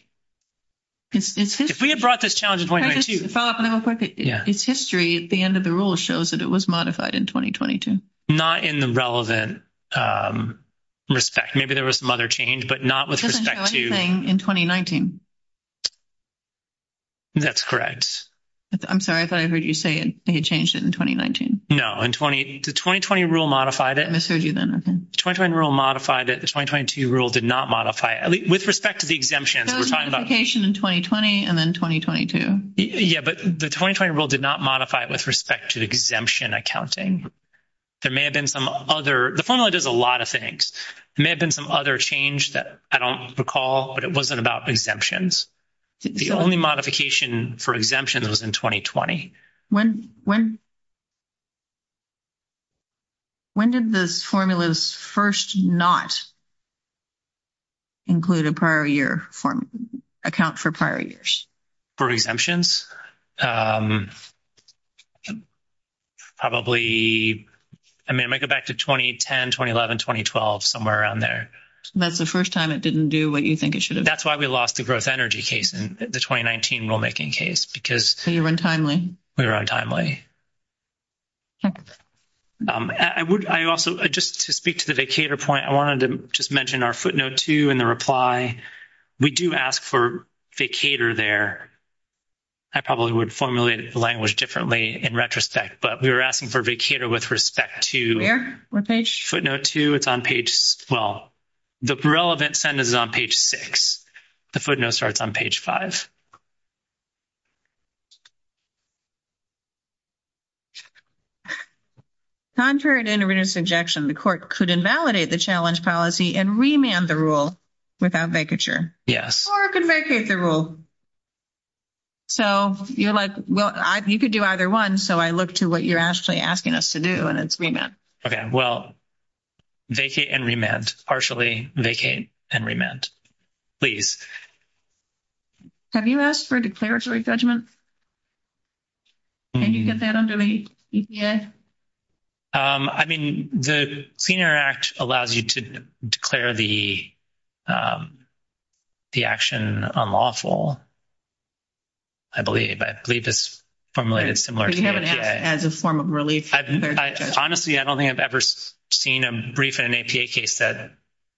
If we had brought this challenge, it's history at the end of the rule shows that it was modified in 2022, not in the relevant. Respect, maybe there was some other change, but not with respect to in 2019. That's correct. I'm sorry, I thought I heard you say, and he changed it in 2019. No, and 20, the 2020 rule modified it and the rule modified it. The 2022 rule did not modify with respect to the exemption in 2020 and then 2022. yeah, but the 2020 rule did not modify it with respect to the exemption accounting. There may have been some other, the formula does a lot of things may have been some other change that I don't recall, but it wasn't about exemptions. The only modification for exemptions in 2020, when, when. When did the formulas 1st, not. Include a prior year form account for prior years. For exemptions, probably, I mean, I might get back to 2010, 2011, 2012, somewhere around there. That's the 1st time. It didn't do what you think it should have. That's why we lost the growth energy case in the 2019 rulemaking case because you're untimely. We're untimely. I would I also just to speak to the data point I wanted to just mention our footnote to, and the reply we do ask for cater there. I probably would formulate the language differently in retrospect, but we were asking for a big cater with respect to page 2. it's on page. Well. The relevant senders on page 6, the footnote starts on page 5. Contrary to interjection, the court could invalidate the challenge policy and remand the rule. Without vacature, yes, or can vacate the rule. So, you're like, well, you could do either 1. so I look to what you're actually asking us to do and it's being. Okay. Well. Vacate and remand partially vacate and remand. Please have you asked for declaratory judgment? And you get that under me? Yeah, I mean, the cleaner act allows you to declare the. The action on lawful, I believe I believe this. Formulated as a form of release, honestly, I don't think I've ever seen a brief in an APA case that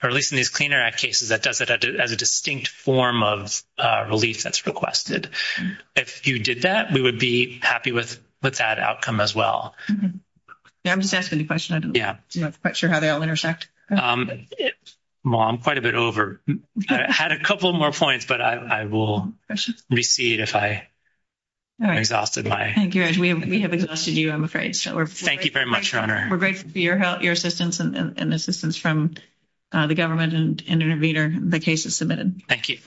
are releasing these cleaner cases that does it as a distinct form of release that's requested. If you did that, we would be happy with with that outcome as well. I'm just asking the question. I'm not quite sure how they all intersect mom quite a bit over had a couple more points. But I will receive if I exhausted my, we have, we have exhausted you. I'm afraid. Thank you very much. We're grateful for your assistance and assistance from the government and intervener. The case is submitted. Thank you.